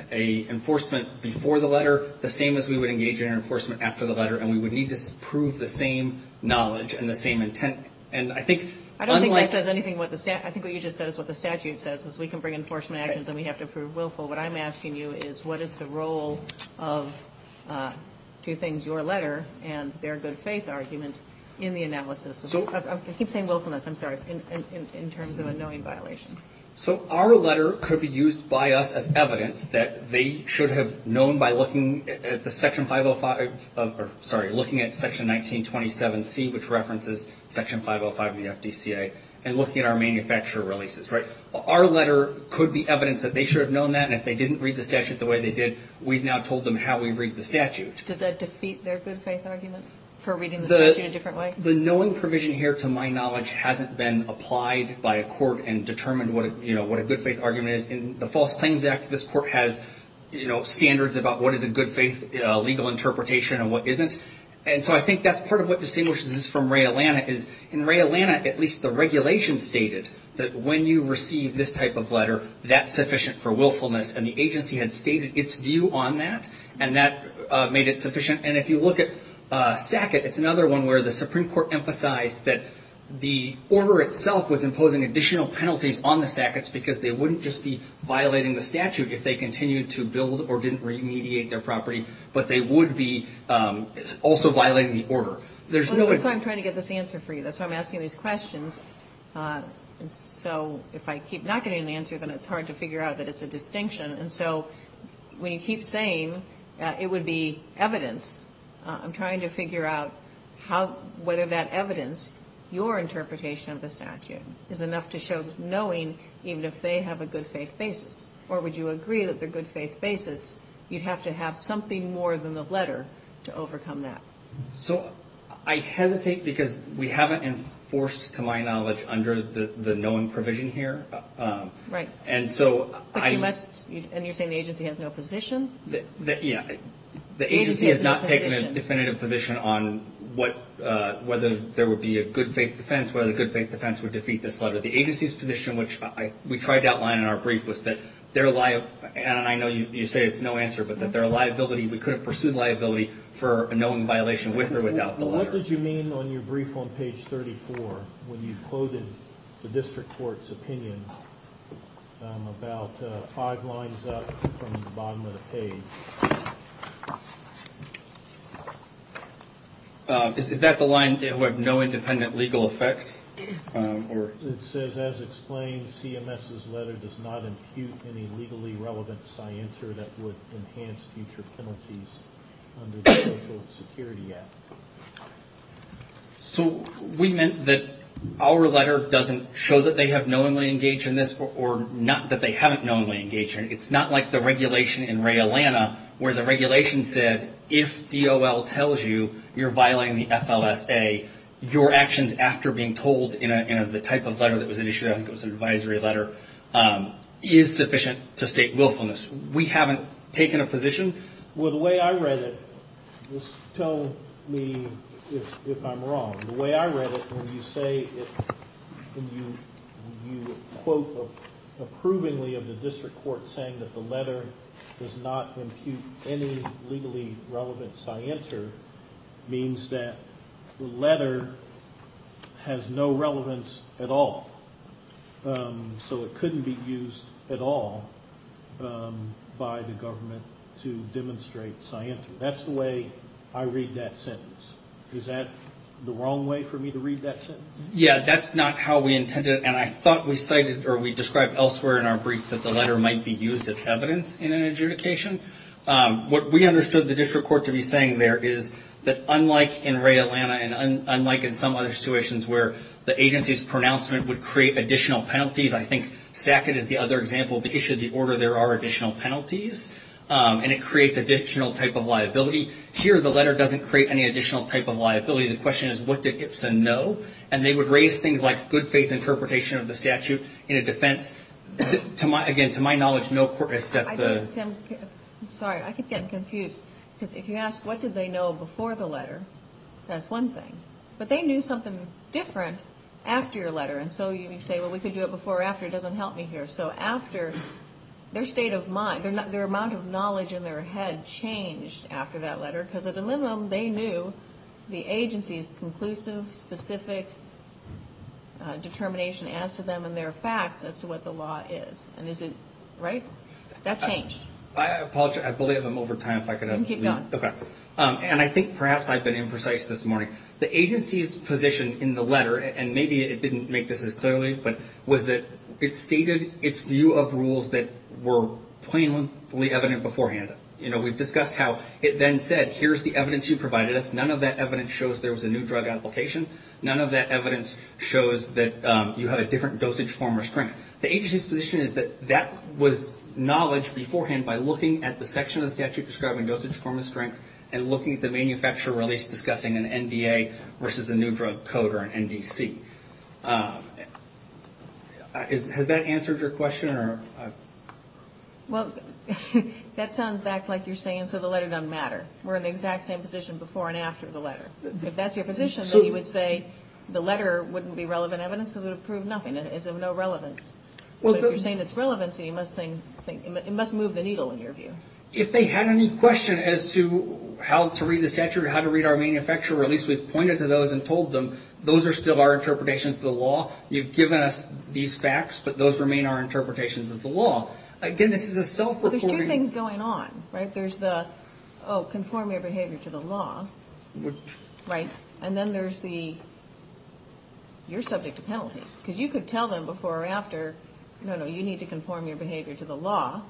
an enforcement before the letter the same as we would engage in an enforcement after the letter, and we would need to prove the same knowledge and the same intent. I don't think I said anything. I think what you just said is what the statute says, is we can bring enforcement actions and we have to prove willful. What I'm asking you is what is the role of, to your letter, and their good faith argument in the analysis? I keep saying willfulness, I'm sorry, in terms of a knowing violation. So our letter could be used by us as evidence that they should have known by looking at Section 1927C, which references Section 505 of the FDCA, and looking at our manufacturer releases, right? Our letter could be evidence that they should have known that, and if they didn't read the statute the way they did, we've now told them how we read the statute. Does that defeat their good faith argument for reading the statute a different way? The knowing provision here, to my knowledge, hasn't been applied by a court and determined what a good faith argument is. In the False Claims Act, this court has standards about what is a good faith legal interpretation and what isn't. And so I think that's part of what distinguishes this from Ray Atlanta. In Ray Atlanta, at least the regulation stated that when you receive this type of letter, that's sufficient for willfulness, and the agency had stated its view on that, and that made it sufficient. And if you look at Sackett, it's another one where the Supreme Court emphasized that the order itself was imposing additional penalties on the Sacketts because they wouldn't just be violating the statute if they continued to build or didn't remediate their property, but they would be also violating the order. That's why I'm trying to get this answer for you. That's why I'm asking these questions. So if I keep not getting an answer, then it's hard to figure out that it's a distinction. And so when you keep saying that it would be evidence, I'm trying to figure out whether that evidence, your interpretation of the statute, is enough to show knowing even if they have a good faith basis. Or would you agree that the good faith basis, you'd have to have something more than the letter to overcome that? So I hesitate because we haven't enforced, to my knowledge, under the known provision here. Right. And you're saying the agency has no position? Yeah. The agency has not taken a definitive position on whether there would be a good faith defense, whether the good faith defense would defeat this letter. The agency's position, which we tried to outline in our brief, was that their liability, and I know you say it's no answer, but that their liability, we could have pursued liability for a known violation with or without the letter. What did you mean on your brief on page 34 when you quoted the district court's opinion, about five lines up from the bottom of the page? Is that the line that would have no independent legal effect? It says, as explained, CMS's letter does not impute any legally relevant science under the Social Security Act. So we meant that our letter doesn't show that they have knowingly engaged in this, or not that they haven't knowingly engaged in it. It's not like the regulation in Ray Atlanta where the regulation said, if DOL tells you you're violating the FLSA, your actions after being told in the type of letter that was issued, I think it was an advisory letter, is sufficient to state willfulness. We haven't taken a position. Well, the way I read it, just tell me if I'm wrong. The way I read it, when you say, when you quote approvingly of the district court saying that the letter does not impute any legally relevant science, means that the letter has no relevance at all. So it couldn't be used at all by the government to demonstrate science. That's the way I read that sentence. Is that the wrong way for me to read that sentence? Yeah, that's not how we intended it. And I thought we cited or we described elsewhere in our brief that the letter might be used as evidence in an adjudication. What we understood the district court to be saying there is that unlike in Ray Atlanta and unlike in some other situations where the agency's pronouncement would create additional penalties, I think Stackett is the other example. The issue of the order, there are additional penalties, and it creates additional type of liability. Here, the letter doesn't create any additional type of liability. The question is, what does Ipsen know? And they would raise things like good faith interpretation of the statute in a defense. Again, to my knowledge, no- Sorry, I keep getting confused. If you ask what did they know before the letter, that's one thing. But they knew something different after your letter. And so you can say, well, we could do it before or after. It doesn't help me here. So after, their state of mind, their amount of knowledge in their head changed after that letter because at the minimum, they knew the agency's conclusive, specific determination as to them and their facts as to what the law is. And is it right? That's changed. I apologize. I believe I'm over time. You can keep going. Okay. And I think perhaps I've been imprecise this morning. The agency's position in the letter, and maybe it didn't make this as clearly, but was that it stated its view of rules that were plainly evident beforehand. You know, we've discussed how it then said, here's the evidence you provided us. None of that evidence shows there was a new drug application. None of that evidence shows that you had a different dosage form or strength. The agency's position is that that was knowledge beforehand by looking at the section of the statute describing dosage form and strength and looking at the manufacturer release discussing an NDA versus a new drug code or an NDC. Has that answered your question? Well, that sounds back like you're saying, so the letter doesn't matter. We're in the exact same position before and after the letter. If that's your position, then you would say the letter wouldn't be relevant evidence because it would prove nothing. It's of no relevance. Well, if you're saying it's relevancy, it must move the needle in your view. If they had any question as to how to read the statute or how to read our manufacturer release, we've pointed to those and told them those are still our interpretations of the law. You've given us these facts, but those remain our interpretations of the law. Again, this is a self-reporting. Well, there's two things going on, right? There's the, oh, conform your behavior to the law, right? And then there's the, you're subject to penalties because you could tell them before or after, no, no, you need to conform your behavior to the law.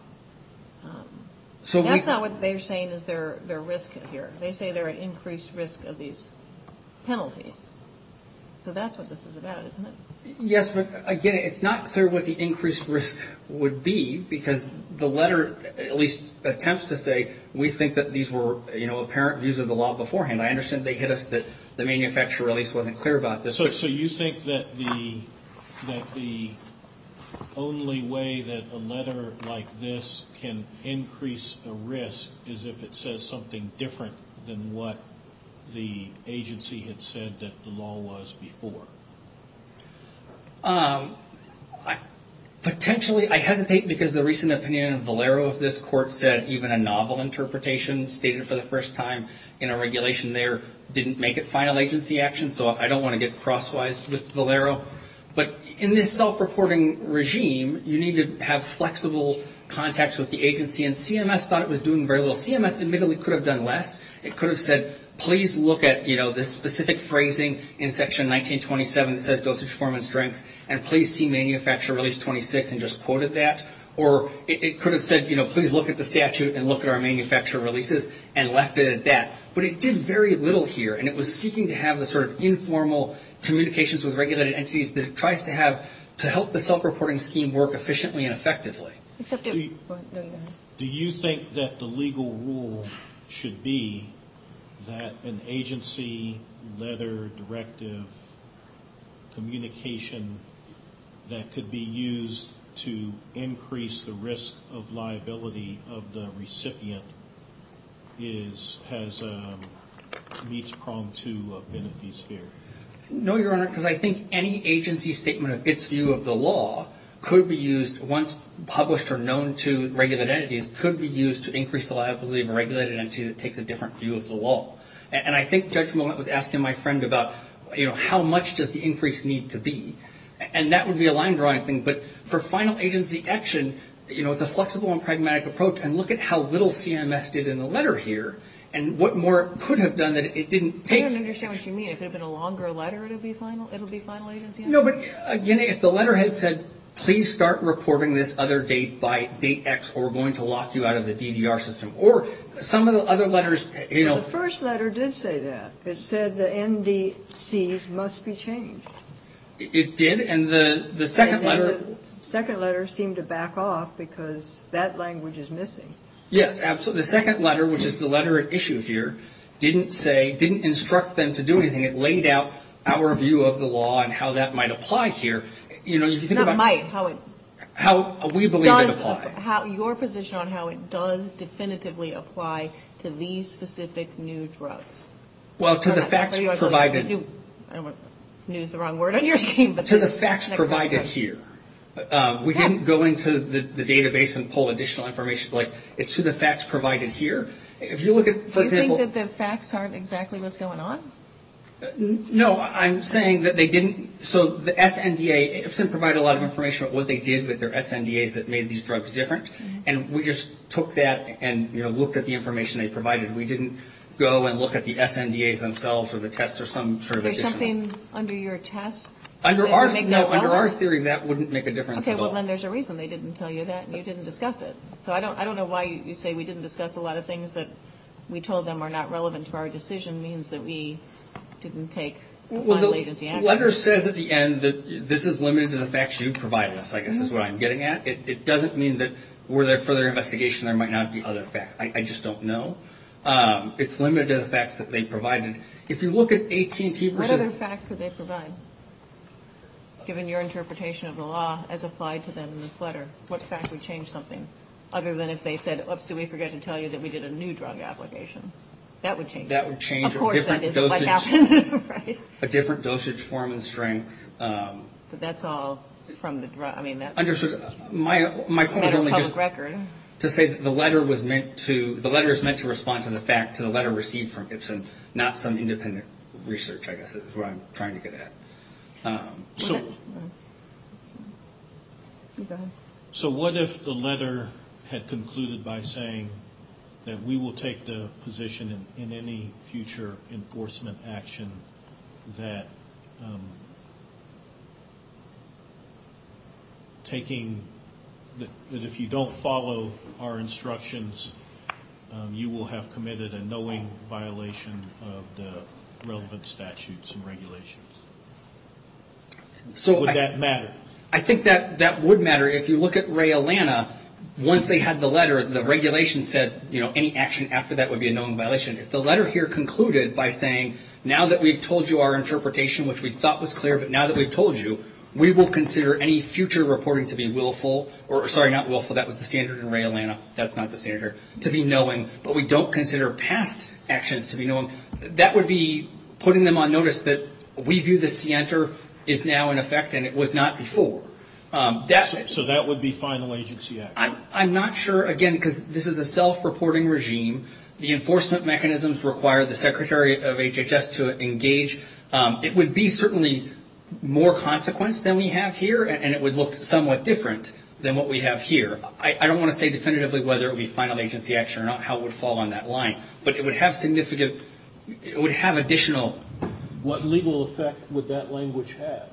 That's not what they're saying is their risk here. They say they're at increased risk of these penalties. So that's what this is about, isn't it? Yes, but again, it's not clear what the increased risk would be because the letter, at least attempts to say we think that these were apparent views of the law beforehand. I understand they hit us that the manufacturer at least wasn't clear about this. So you think that the only way that a letter like this can increase a risk is if it says something different than what the agency had said that the law was before? Potentially, I hesitate because the recent opinion of Valero of this court said even a novel interpretation stated for the first time in a regulation there didn't make it final agency action. So I don't want to get crosswise with Valero. But in this self-reporting regime, you need to have flexible contacts with the agency. And CMS thought it was doing very well. CMS admittedly could have done less. It could have said please look at this specific phrasing in section 1927 that says dosage, form, and strength and please see manufacturer release 26 and just quoted that. Or it could have said please look at the statute and look at our manufacturer releases and left it at that. But it did very little here. And it was seeking to have the sort of informal communications with regulated entities that it tries to have to help the self-reporting scheme work efficiently and effectively. Do you think that the legal rule should be that an agency letter, directive, communication that could be used to increase the risk of liability of the recipient has reached prong to a benefit sphere? No, Your Honor, because I think any agency statement of its view of the law could be used once published or known to regulated entities could be used to increase the liability of a regulated entity that takes a different view of the law. And I think Judge Millett was asking my friend about, you know, how much does the increase need to be? And that would be a line drawing thing. But for final agency action, you know, it's a flexible and pragmatic approach. And look at how little CMS did in the letter here and what more could have done that it didn't take. I don't understand what you mean. If it had been a longer letter, it would be final agency action? No, but again, if the letter had said, please start recording this other date by date X or we're going to lock you out of the DDR system, or some of the other letters, you know- The first letter did say that. It said the NDCs must be changed. It did? And the second letter- The second letter seemed to back off because that language is missing. Yes, absolutely. The second letter, which is the letter it issues here, didn't say, didn't instruct them to do anything. It laid out our view of the law and how that might apply here. You know, if you think about- Not might, how it- How we believe it applies. Your position on how it does definitively apply to these specific new drugs. Well, to the facts provided- I don't want to use the wrong word on your team, but- To the facts provided here. We didn't go into the database and pull additional information. It's to the facts provided here. If you look at, for example- Do you think that the facts aren't exactly what's going on? No, I'm saying that they didn't- So, the SNDA, it didn't provide a lot of information about what they did with their SNDAs that made these drugs different. And we just took that and, you know, looked at the information they provided. We didn't go and look at the SNDAs themselves, or the tests, or some sort of additional- Is something under your test? No, under our theory, that wouldn't make a difference at all. Okay, well, then there's a reason they didn't tell you that, and you didn't discuss it. So, I don't know why you say we didn't discuss a lot of things that we told them are not relevant to our decision. It means that we didn't take final agency action. Well, the letter says at the end that this is limited to the facts you provided us. Like, this is what I'm getting at. It doesn't mean that, were there further investigation, there might not be other facts. I just don't know. It's limited to the facts that they provided. If you look at 18- What other facts did they provide, given your interpretation of the law, as applied to them in this letter? What fact would change something? Other than if they said, oops, did we forget to tell you that we did a new drug application. That would change it. That would change it. Of course that is what happened. A different dosage, form, and strength. But that's all from the drug. My point is only to say that the letter is meant to respond to the fact, to the letter received from Gibson, not some independent research, I guess, is what I'm trying to get at. So- Go ahead. So what if the letter had concluded by saying that we will take the position in any future enforcement action that taking- you will have committed a knowing violation of the relevant statutes and regulations. Would that matter? I think that would matter. If you look at Ray Atlanta, once they had the letter, the regulation said, you know, any action after that would be a known violation. If the letter here concluded by saying, now that we've told you our interpretation, which we thought was clear, but now that we've told you, we will consider any future reporting to be willful, or sorry, not willful, that was the standard in Ray Atlanta, that's not the standard, to be knowing. But we don't consider past actions to be known. That would be putting them on notice that we view the standard is now in effect and it was not before. So that would be final agency action. I'm not sure, again, because this is a self-reporting regime. The enforcement mechanisms require the Secretary of HHS to engage. It would be certainly more consequence than we have here, and it would look somewhat different than what we have here. I don't want to say definitively whether it would be final agency action or not, how it would fall on that line. But it would have significant, it would have additional. What legal effect would that language have?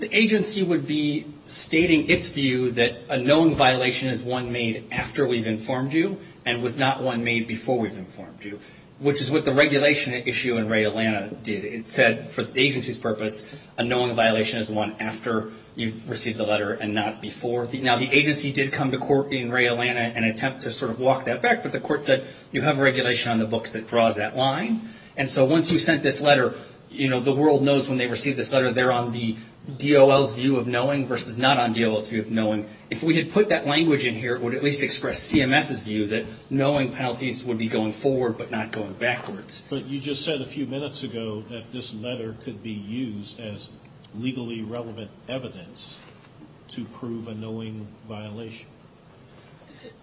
The agency would be stating its view that a known violation is one made after we've informed you and was not one made before we've informed you, which is what the regulation issue in Ray Atlanta did. It said for the agency's purpose, a known violation is one after you've received the letter and not before. Now, the agency did come to court in Ray Atlanta and attempt to sort of walk that back, but the court said you have a regulation on the books that draws that line. And so once you've sent this letter, you know, the world knows when they receive this letter, they're on the DOL's view of knowing versus not on DOL's view of knowing. If we had put that language in here, it would at least express CMS's view that knowing penalties would be going forward but not going backwards. But you just said a few minutes ago that this letter could be used as legally relevant evidence to prove a knowing violation.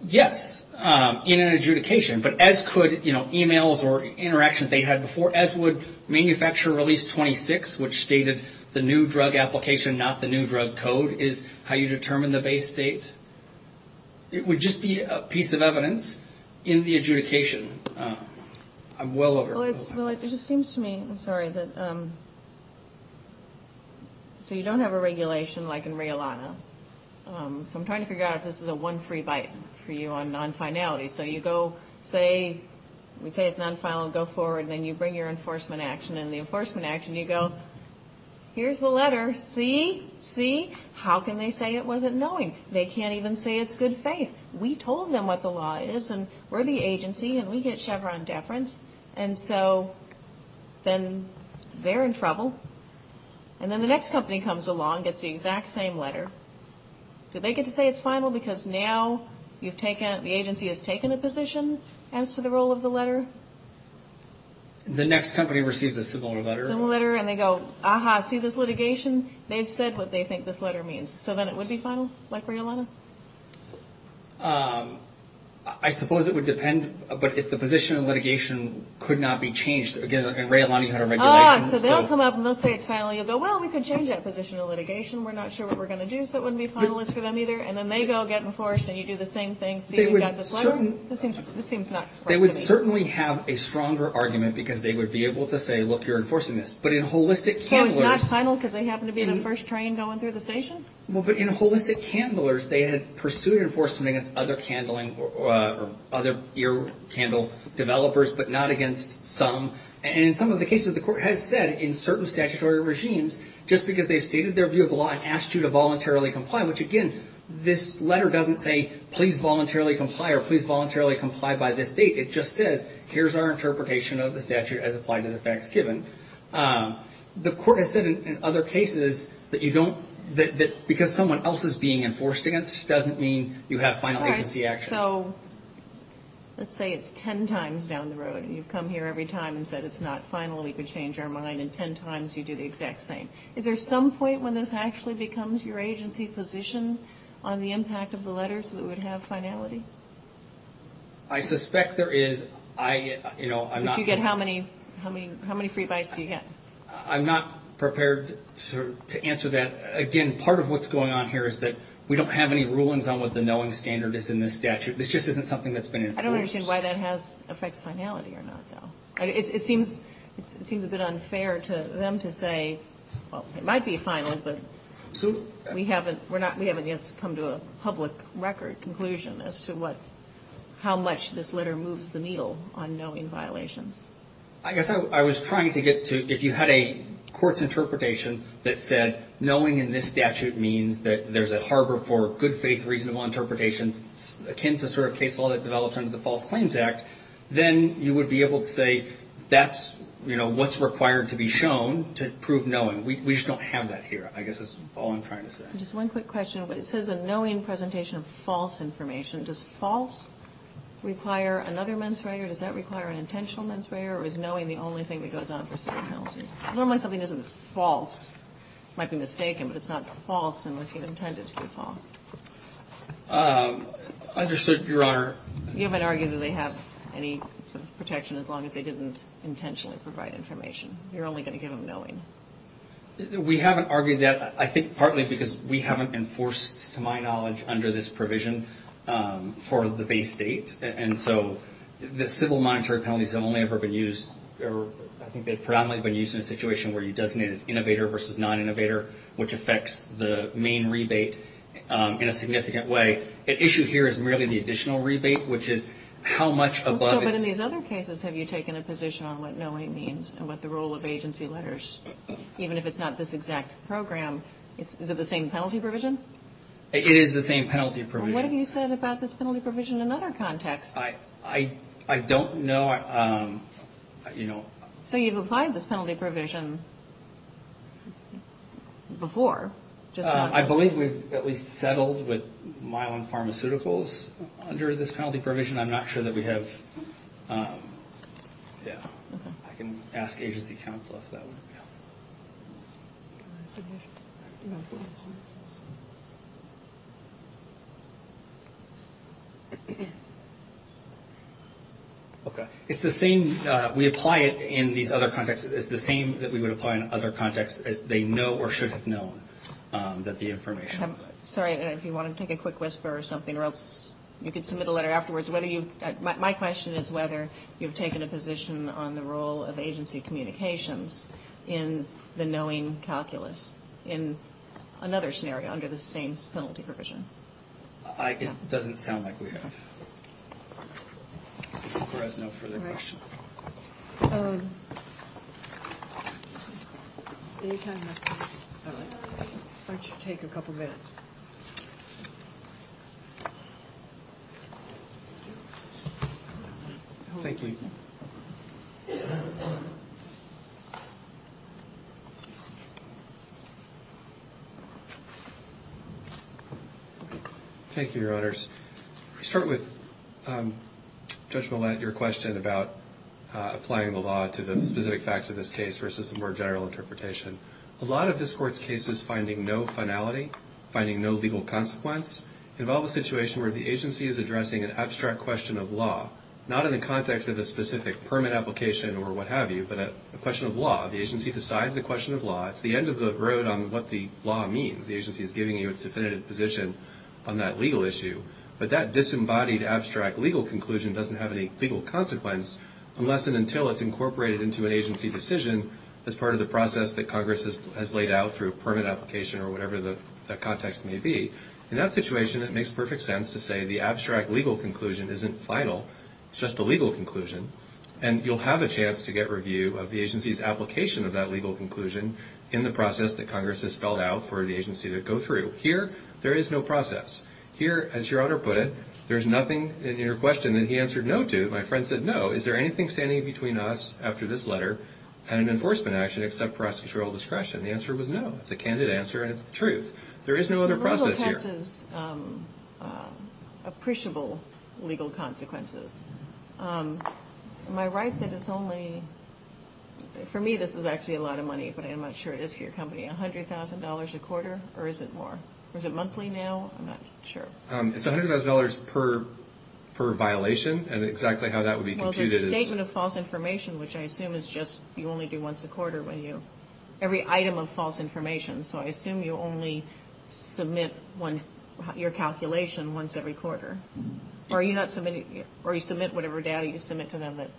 Yes, in an adjudication. But as could, you know, e-mails or interactions they had before, as would manufacturer release 26, which stated the new drug application, not the new drug code, is how you determine the base date. It would just be a piece of evidence in the adjudication. I'm well over. Well, it just seems to me, I'm sorry, that so you don't have a regulation like in Ray Atlanta. So I'm trying to figure out if this is a one free bite for you on non-finality. So you go, say it's non-final, go forward, then you bring your enforcement action, and in the enforcement action you go, here's the letter, see, see, how can they say it wasn't knowing? They can't even say it's good faith. We told them what the law is, and we're the agency, and we get Chevron deference. And so then they're in trouble. And then the next company comes along, gets the exact same letter. Do they get to say it's final because now you've taken, the agency has taken a position as to the role of the letter? The next company receives a similar letter. Similar letter, and they go, aha, see this litigation? They've said what they think this letter means. So then it would be final like Ray Atlanta? I suppose it would depend, but if the position of litigation could not be changed. Again, like in Ray Atlanta you had a regulation. Ah, so they'll come up and they'll say it's final. You'll go, well, we could change that position of litigation. We're not sure what we're going to do, so it wouldn't be final. It's good for them either. And then they go get enforced, and you do the same thing. This seems not correct to me. They would certainly have a stronger argument because they would be able to say, look, you're enforcing this. It's not final because they happen to be the first train going through the station? Well, but in holistic candlers, they had pursued enforcing against other candling or other ear candle developers, but not against some. And in some of the cases, the court has said in certain statutory regimes, just because they've stated their view of the law, it asks you to voluntarily comply, which, again, this letter doesn't say please voluntarily comply or please voluntarily comply by this date. It just says, here's our interpretation of the statute as applied to the facts given. The court has said in other cases that you don't – that because someone else is being enforced against doesn't mean you have final agency action. All right, so let's say it's 10 times down the road, and you've come here every time and said it's not final, we could change our mind, and 10 times you do the exact same. Is there some point when this actually becomes your agency's position on the impact of the letters that it would have finality? I suspect there is. I – you know, I'm not – But you get how many – how many free bites do you get? I'm not prepared to answer that. Again, part of what's going on here is that we don't have any rulings on what the knowing standard is in this statute. This just isn't something that's been enforced. I don't understand why that has – affects finality or not, though. It seems – it seems a bit unfair to them to say, well, it might be final, but we haven't – we're not – we haven't yet come to a public record conclusion as to what – how much this letter moves the needle on knowing violations. I guess I was trying to get to if you had a court's interpretation that said knowing in this statute means that there's a harbor for good faith, reasonable interpretation, attends the sort of case law that develops under the False Claims Act, then you would be able to say that's, you know, what's required to be shown to prove knowing. We just don't have that here, I guess is all I'm trying to say. Just one quick question, but it says a knowing presentation of false information. Does false require another mens rea or does that require an intentional mens rea or is knowing the only thing that goes on for certain penalties? I don't know when something isn't false. It might be mistaken, but it's not false unless you intend it to be false. Understood, Your Honor. You might argue that they have any sort of protection as long as they didn't intentionally provide information. You're only going to give them knowing. We haven't argued that. I think partly because we haven't enforced, to my knowledge, under this provision for the base date, and so the civil monetary penalties have only ever been used, or I think they've probably been used in a situation where you designated innovator versus non-innovator, which affects the main rebate in a significant way. The issue here is really the additional rebate, which is how much above it. But in these other cases, have you taken a position on what knowing means and what the role of agency letters, even if it's not this exact program, is it the same penalty provision? It is the same penalty provision. And what have you said about this penalty provision in other contexts? I don't know. So you've applied this penalty provision before? I believe that we've settled with Mylan Pharmaceuticals under this penalty provision. I'm not sure that we have. Yeah. I can ask agency counsel if that works. Okay. It's the same. We apply it in these other contexts. It's the same that we would apply in other contexts. They know or should have known that the information. Sorry. If you want to take a quick whisper or something, you can submit a letter afterwards. My question is whether you've taken a position on the role of agency communications in the knowing calculus. In another scenario, under the same penalty provision. It doesn't sound like we have. There's no further questions. It should take a couple minutes. Thank you. Thank you, Your Honors. I'll start with Judge Millett, your question about applying the law to the specific facts of this case versus the more general interpretation. A lot of this court's cases finding no finality, finding no legal consequence, involve a situation where the agency is addressing an abstract question of law, not in the context of a specific permit application or what have you, but a question of law. The agency decides the question of law. It's the end of the road on what the law means. The agency is giving you its definitive position on that legal issue. But that disembodied abstract legal conclusion doesn't have any legal consequence unless and until it's incorporated into an agency decision as part of the process that Congress has laid out through permit application or whatever the context may be. In that situation, it makes perfect sense to say the abstract legal conclusion isn't vital. It's just a legal conclusion. And you'll have a chance to get review of the agency's application of that legal conclusion in the process that Congress has spelled out for the agency to go through. Here, there is no process. Here, as Your Honor put it, there's nothing in your question that he answered no to. My friend said no. Is there anything standing between us after this letter and an enforcement action except procedural discretion? The answer was no. It's a candid answer and it's true. There is no other process here. The rule of text is appreciable legal consequences. My wife said it's only, for me this is actually a lot of money, but I'm not sure it is for your company, $100,000 a quarter or is it more? Is it monthly now? I'm not sure. It's $100,000 per violation and exactly how that would be computed is. Well, it's a statement of false information, which I assume is just you only do once a quarter when you, every item of false information. So I assume you only submit your calculation once every quarter. Or you submit whatever data you submit to them that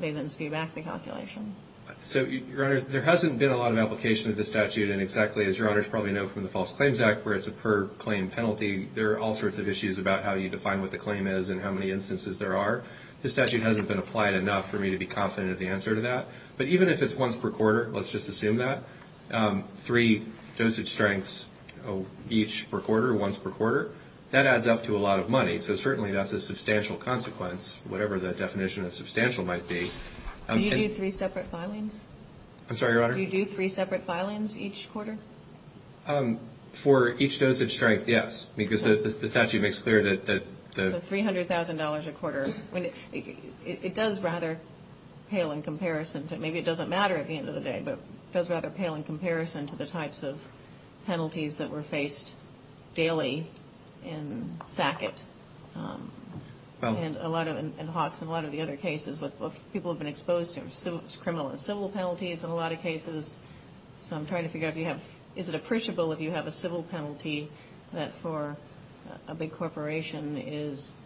they then see back the calculation. So, Your Honor, there hasn't been a lot of application of this statute, and exactly as Your Honors probably know from the False Claims Act where it's a per-claim penalty, there are all sorts of issues about how you define what the claim is and how many instances there are. This statute hasn't been applied enough for me to be confident of the answer to that. But even if it's once per quarter, let's just assume that, three dosage strengths each per quarter, once per quarter, that adds up to a lot of money, so certainly that's a substantial consequence, whatever the definition of substantial might be. Do you do three separate filings? I'm sorry, Your Honor? Do you do three separate filings each quarter? For each dosage strength, yes, because the statute makes clear that the... It does rather pale in comparison to, maybe it doesn't matter at the end of the day, but it does rather pale in comparison to the types of penalties that were faced daily in SACIT and HOTS and a lot of the other cases where people have been exposed to criminal and civil penalties in a lot of cases. So I'm trying to figure out if you have... Is it appreciable if you have a civil penalty that for a big corporation is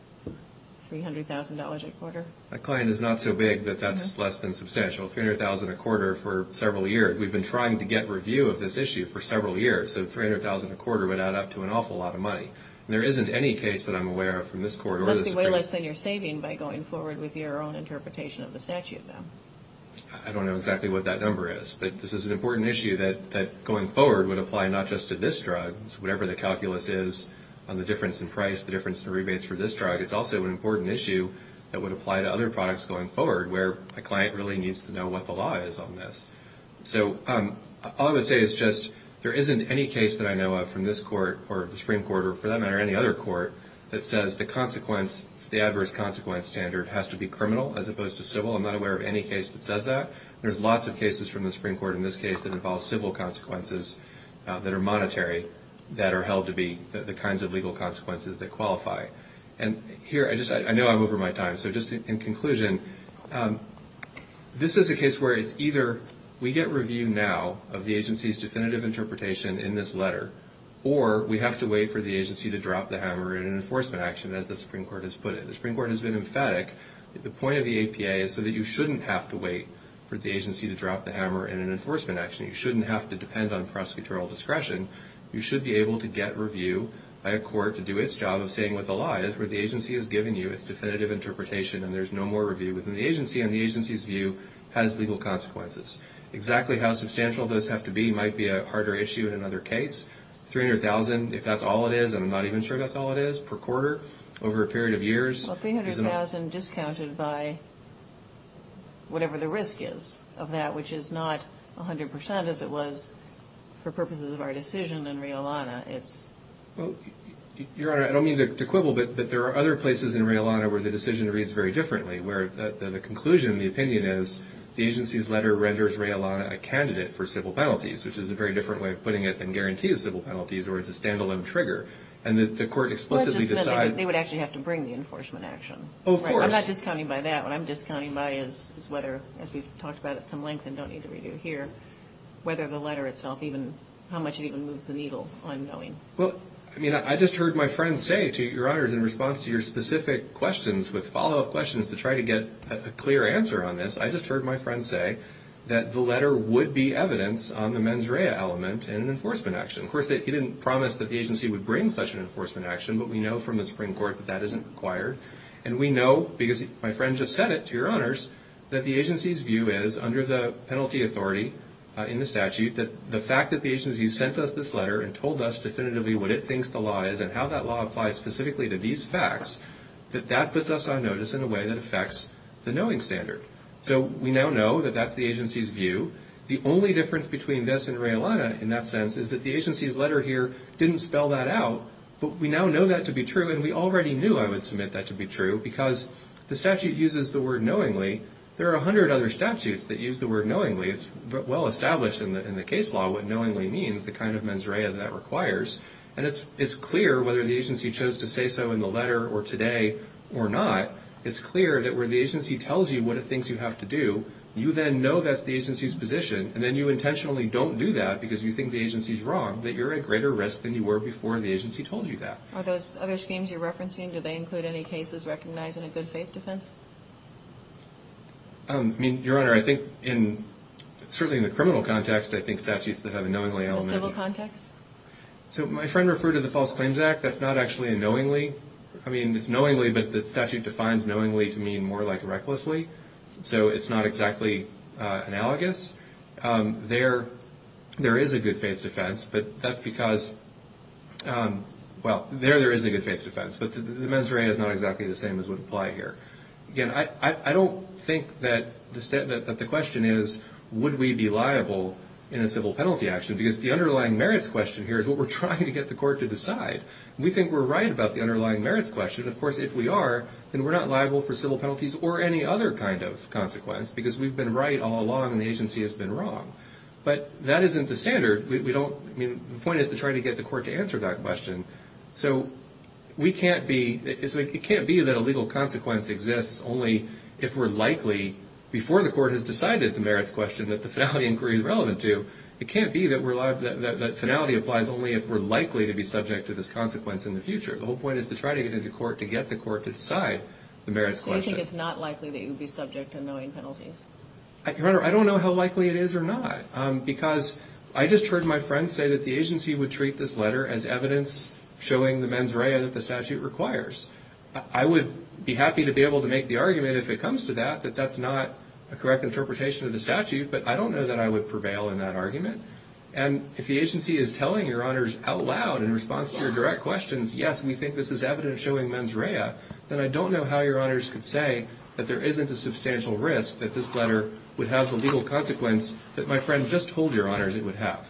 $300,000 a quarter? That claim is not so big that that's less than substantial. $300,000 a quarter for several years. We've been trying to get review of this issue for several years, so $300,000 a quarter would add up to an awful lot of money. There isn't any case that I'm aware of from this court... It must be way less than you're saving by going forward with your own interpretation of the statute, then. I don't know exactly what that number is, but this is an important issue that going forward would apply not just to this drug, whatever the calculus is on the difference in price, the difference in rebates for this drug, it's also an important issue that would apply to other products going forward where a client really needs to know what the law is on this. So all I would say is just there isn't any case that I know of from this court or the Supreme Court or, for that matter, any other court that says the adverse consequence standard has to be criminal as opposed to civil. I'm not aware of any case that does that. There's lots of cases from the Supreme Court in this case that involve civil consequences that are monetary that are held to be the kinds of legal consequences that qualify. And here, I know I'm over my time, so just in conclusion, this is a case where it's either we get review now of the agency's definitive interpretation in this letter or we have to wait for the agency to drop the hammer in an enforcement action, as the Supreme Court has put it. The Supreme Court has been emphatic. The point of the APA is so that you shouldn't have to wait for the agency to drop the hammer in an enforcement action. You shouldn't have to depend on prosecutorial discretion. You should be able to get review by a court to do its job of saying what the law is where the agency has given you its definitive interpretation and there's no more review within the agency and the agency's view has legal consequences. Exactly how substantial those have to be might be a harder issue in another case. $300,000, if that's all it is, I'm not even sure that's all it is per quarter over a period of years. $300,000 discounted by whatever the risk is of that, which is not 100% as it was for purposes of our decision in Riallana. Your Honor, I don't mean to quibble, but there are other places in Riallana where the decision reads very differently, where the conclusion, the opinion is the agency's letter renders Riallana a candidate for civil penalties, which is a very different way of putting it than guarantee of civil penalties or it's a stand-alone trigger. And the court explicitly decides... They would actually have to bring the enforcement action. Oh, of course. I'm not discounting by that. What I'm discounting by is whether, as we've talked about at some length and don't need to review here, whether the letter itself even, how much it even moves the needle, I'm knowing. Well, I mean, I just heard my friend say, Your Honor, in response to your specific questions with follow-up questions to try to get a clear answer on this, I just heard my friend say that the letter would be evidence on the mens rea element in an enforcement action. Of course, he didn't promise that the agency would bring such an enforcement action, but we know from the Supreme Court that that isn't required. And we know, because my friend just said it, to Your Honors, that the agency's view is, under the penalty authority in the statute, that the fact that the agency sent us this letter and told us definitively what it thinks the law is and how that law applies specifically to these facts, that that puts us on notice in a way that affects the knowing standard. So we now know that that's the agency's view. The only difference between this and realignment in that sense is that the agency's letter here didn't spell that out, but we now know that to be true, and we already knew, I would submit, that to be true, because the statute uses the word knowingly. There are 100 other statutes that use the word knowingly. It's well established in the case law what knowingly means, the kind of mens rea that that requires. And it's clear, whether the agency chose to say so in the letter or today or not, it's clear that where the agency tells you what it thinks you have to do, you then know that's the agency's position, and then you intentionally don't do that because you think the agency's wrong, that you're at greater risk than you were before the agency told you that. Are those other schemes you're referencing, do they include any cases recognizing a good faith defense? I mean, Your Honor, I think, certainly in the criminal context, I think statutes that have a knowingly element... So my friend referred to the False Claims Act, that's not actually a knowingly. I mean, it's knowingly, but the statute defines knowingly to mean more like recklessly, so it's not exactly analogous. There is a good faith defense, but that's because... Well, there, there is a good faith defense, but the mens rea is not exactly the same as would apply here. Again, I don't think that the question is, would we be liable in a civil penalty action, because the underlying merits question here is what we're trying to get the court to decide. We think we're right about the underlying merits question. Of course, if we are, then we're not liable for civil penalties or any other kind of consequence because we've been right all along and the agency has been wrong. But that isn't the standard. We don't... I mean, the point is to try to get the court to answer that question. So we can't be... It can't be that a legal consequence exists only if we're likely, before the court has decided the merits question that the finality inquiry is relevant to. It can't be that finality applies only if we're likely to be subject to this consequence in the future. The whole point is to try to get the court to decide the merits question. So you think it's not likely that you'd be subject to knowing penalties? Your Honor, I don't know how likely it is or not, because I just heard my friend say that the agency would treat this letter as evidence showing the mens rea that the statute requires. I would be happy to be able to make the argument if it comes to that, that that's not a correct interpretation of the statute, but I don't know that I would prevail in that argument. And if the agency is telling Your Honors out loud in response to your direct question, yes, we think this is evidence showing mens rea, then I don't know how Your Honors could say that there isn't a substantial risk that this letter would have the legal consequence that my friend just told Your Honors it would have.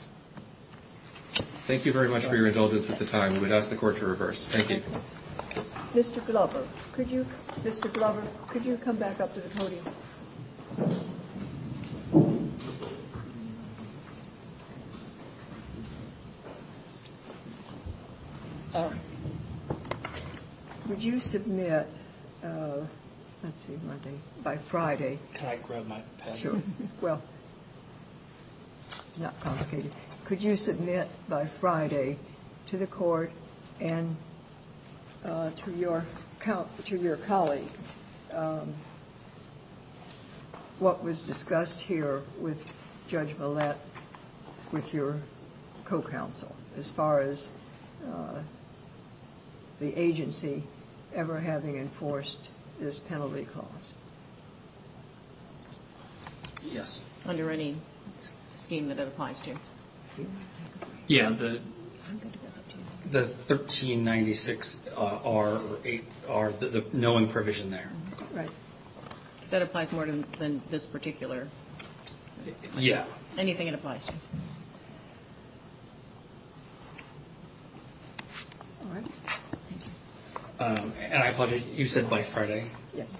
Thank you very much for your indulgence at the time. We'd ask the court to reverse. Thank you. Mr. Glover, could you come back up to the podium? Would you submit by Friday to the court and to your colleague what was discussed here with Judge Millett, with your co-counsel as far as the agency ever having enforced this penalty clause? Yes. Under any scheme that applies to you? Yes, the 1396R, the knowing provision there. That applies more than this particular? Yes. Anything that applies? And I thought you said by Friday? Yes.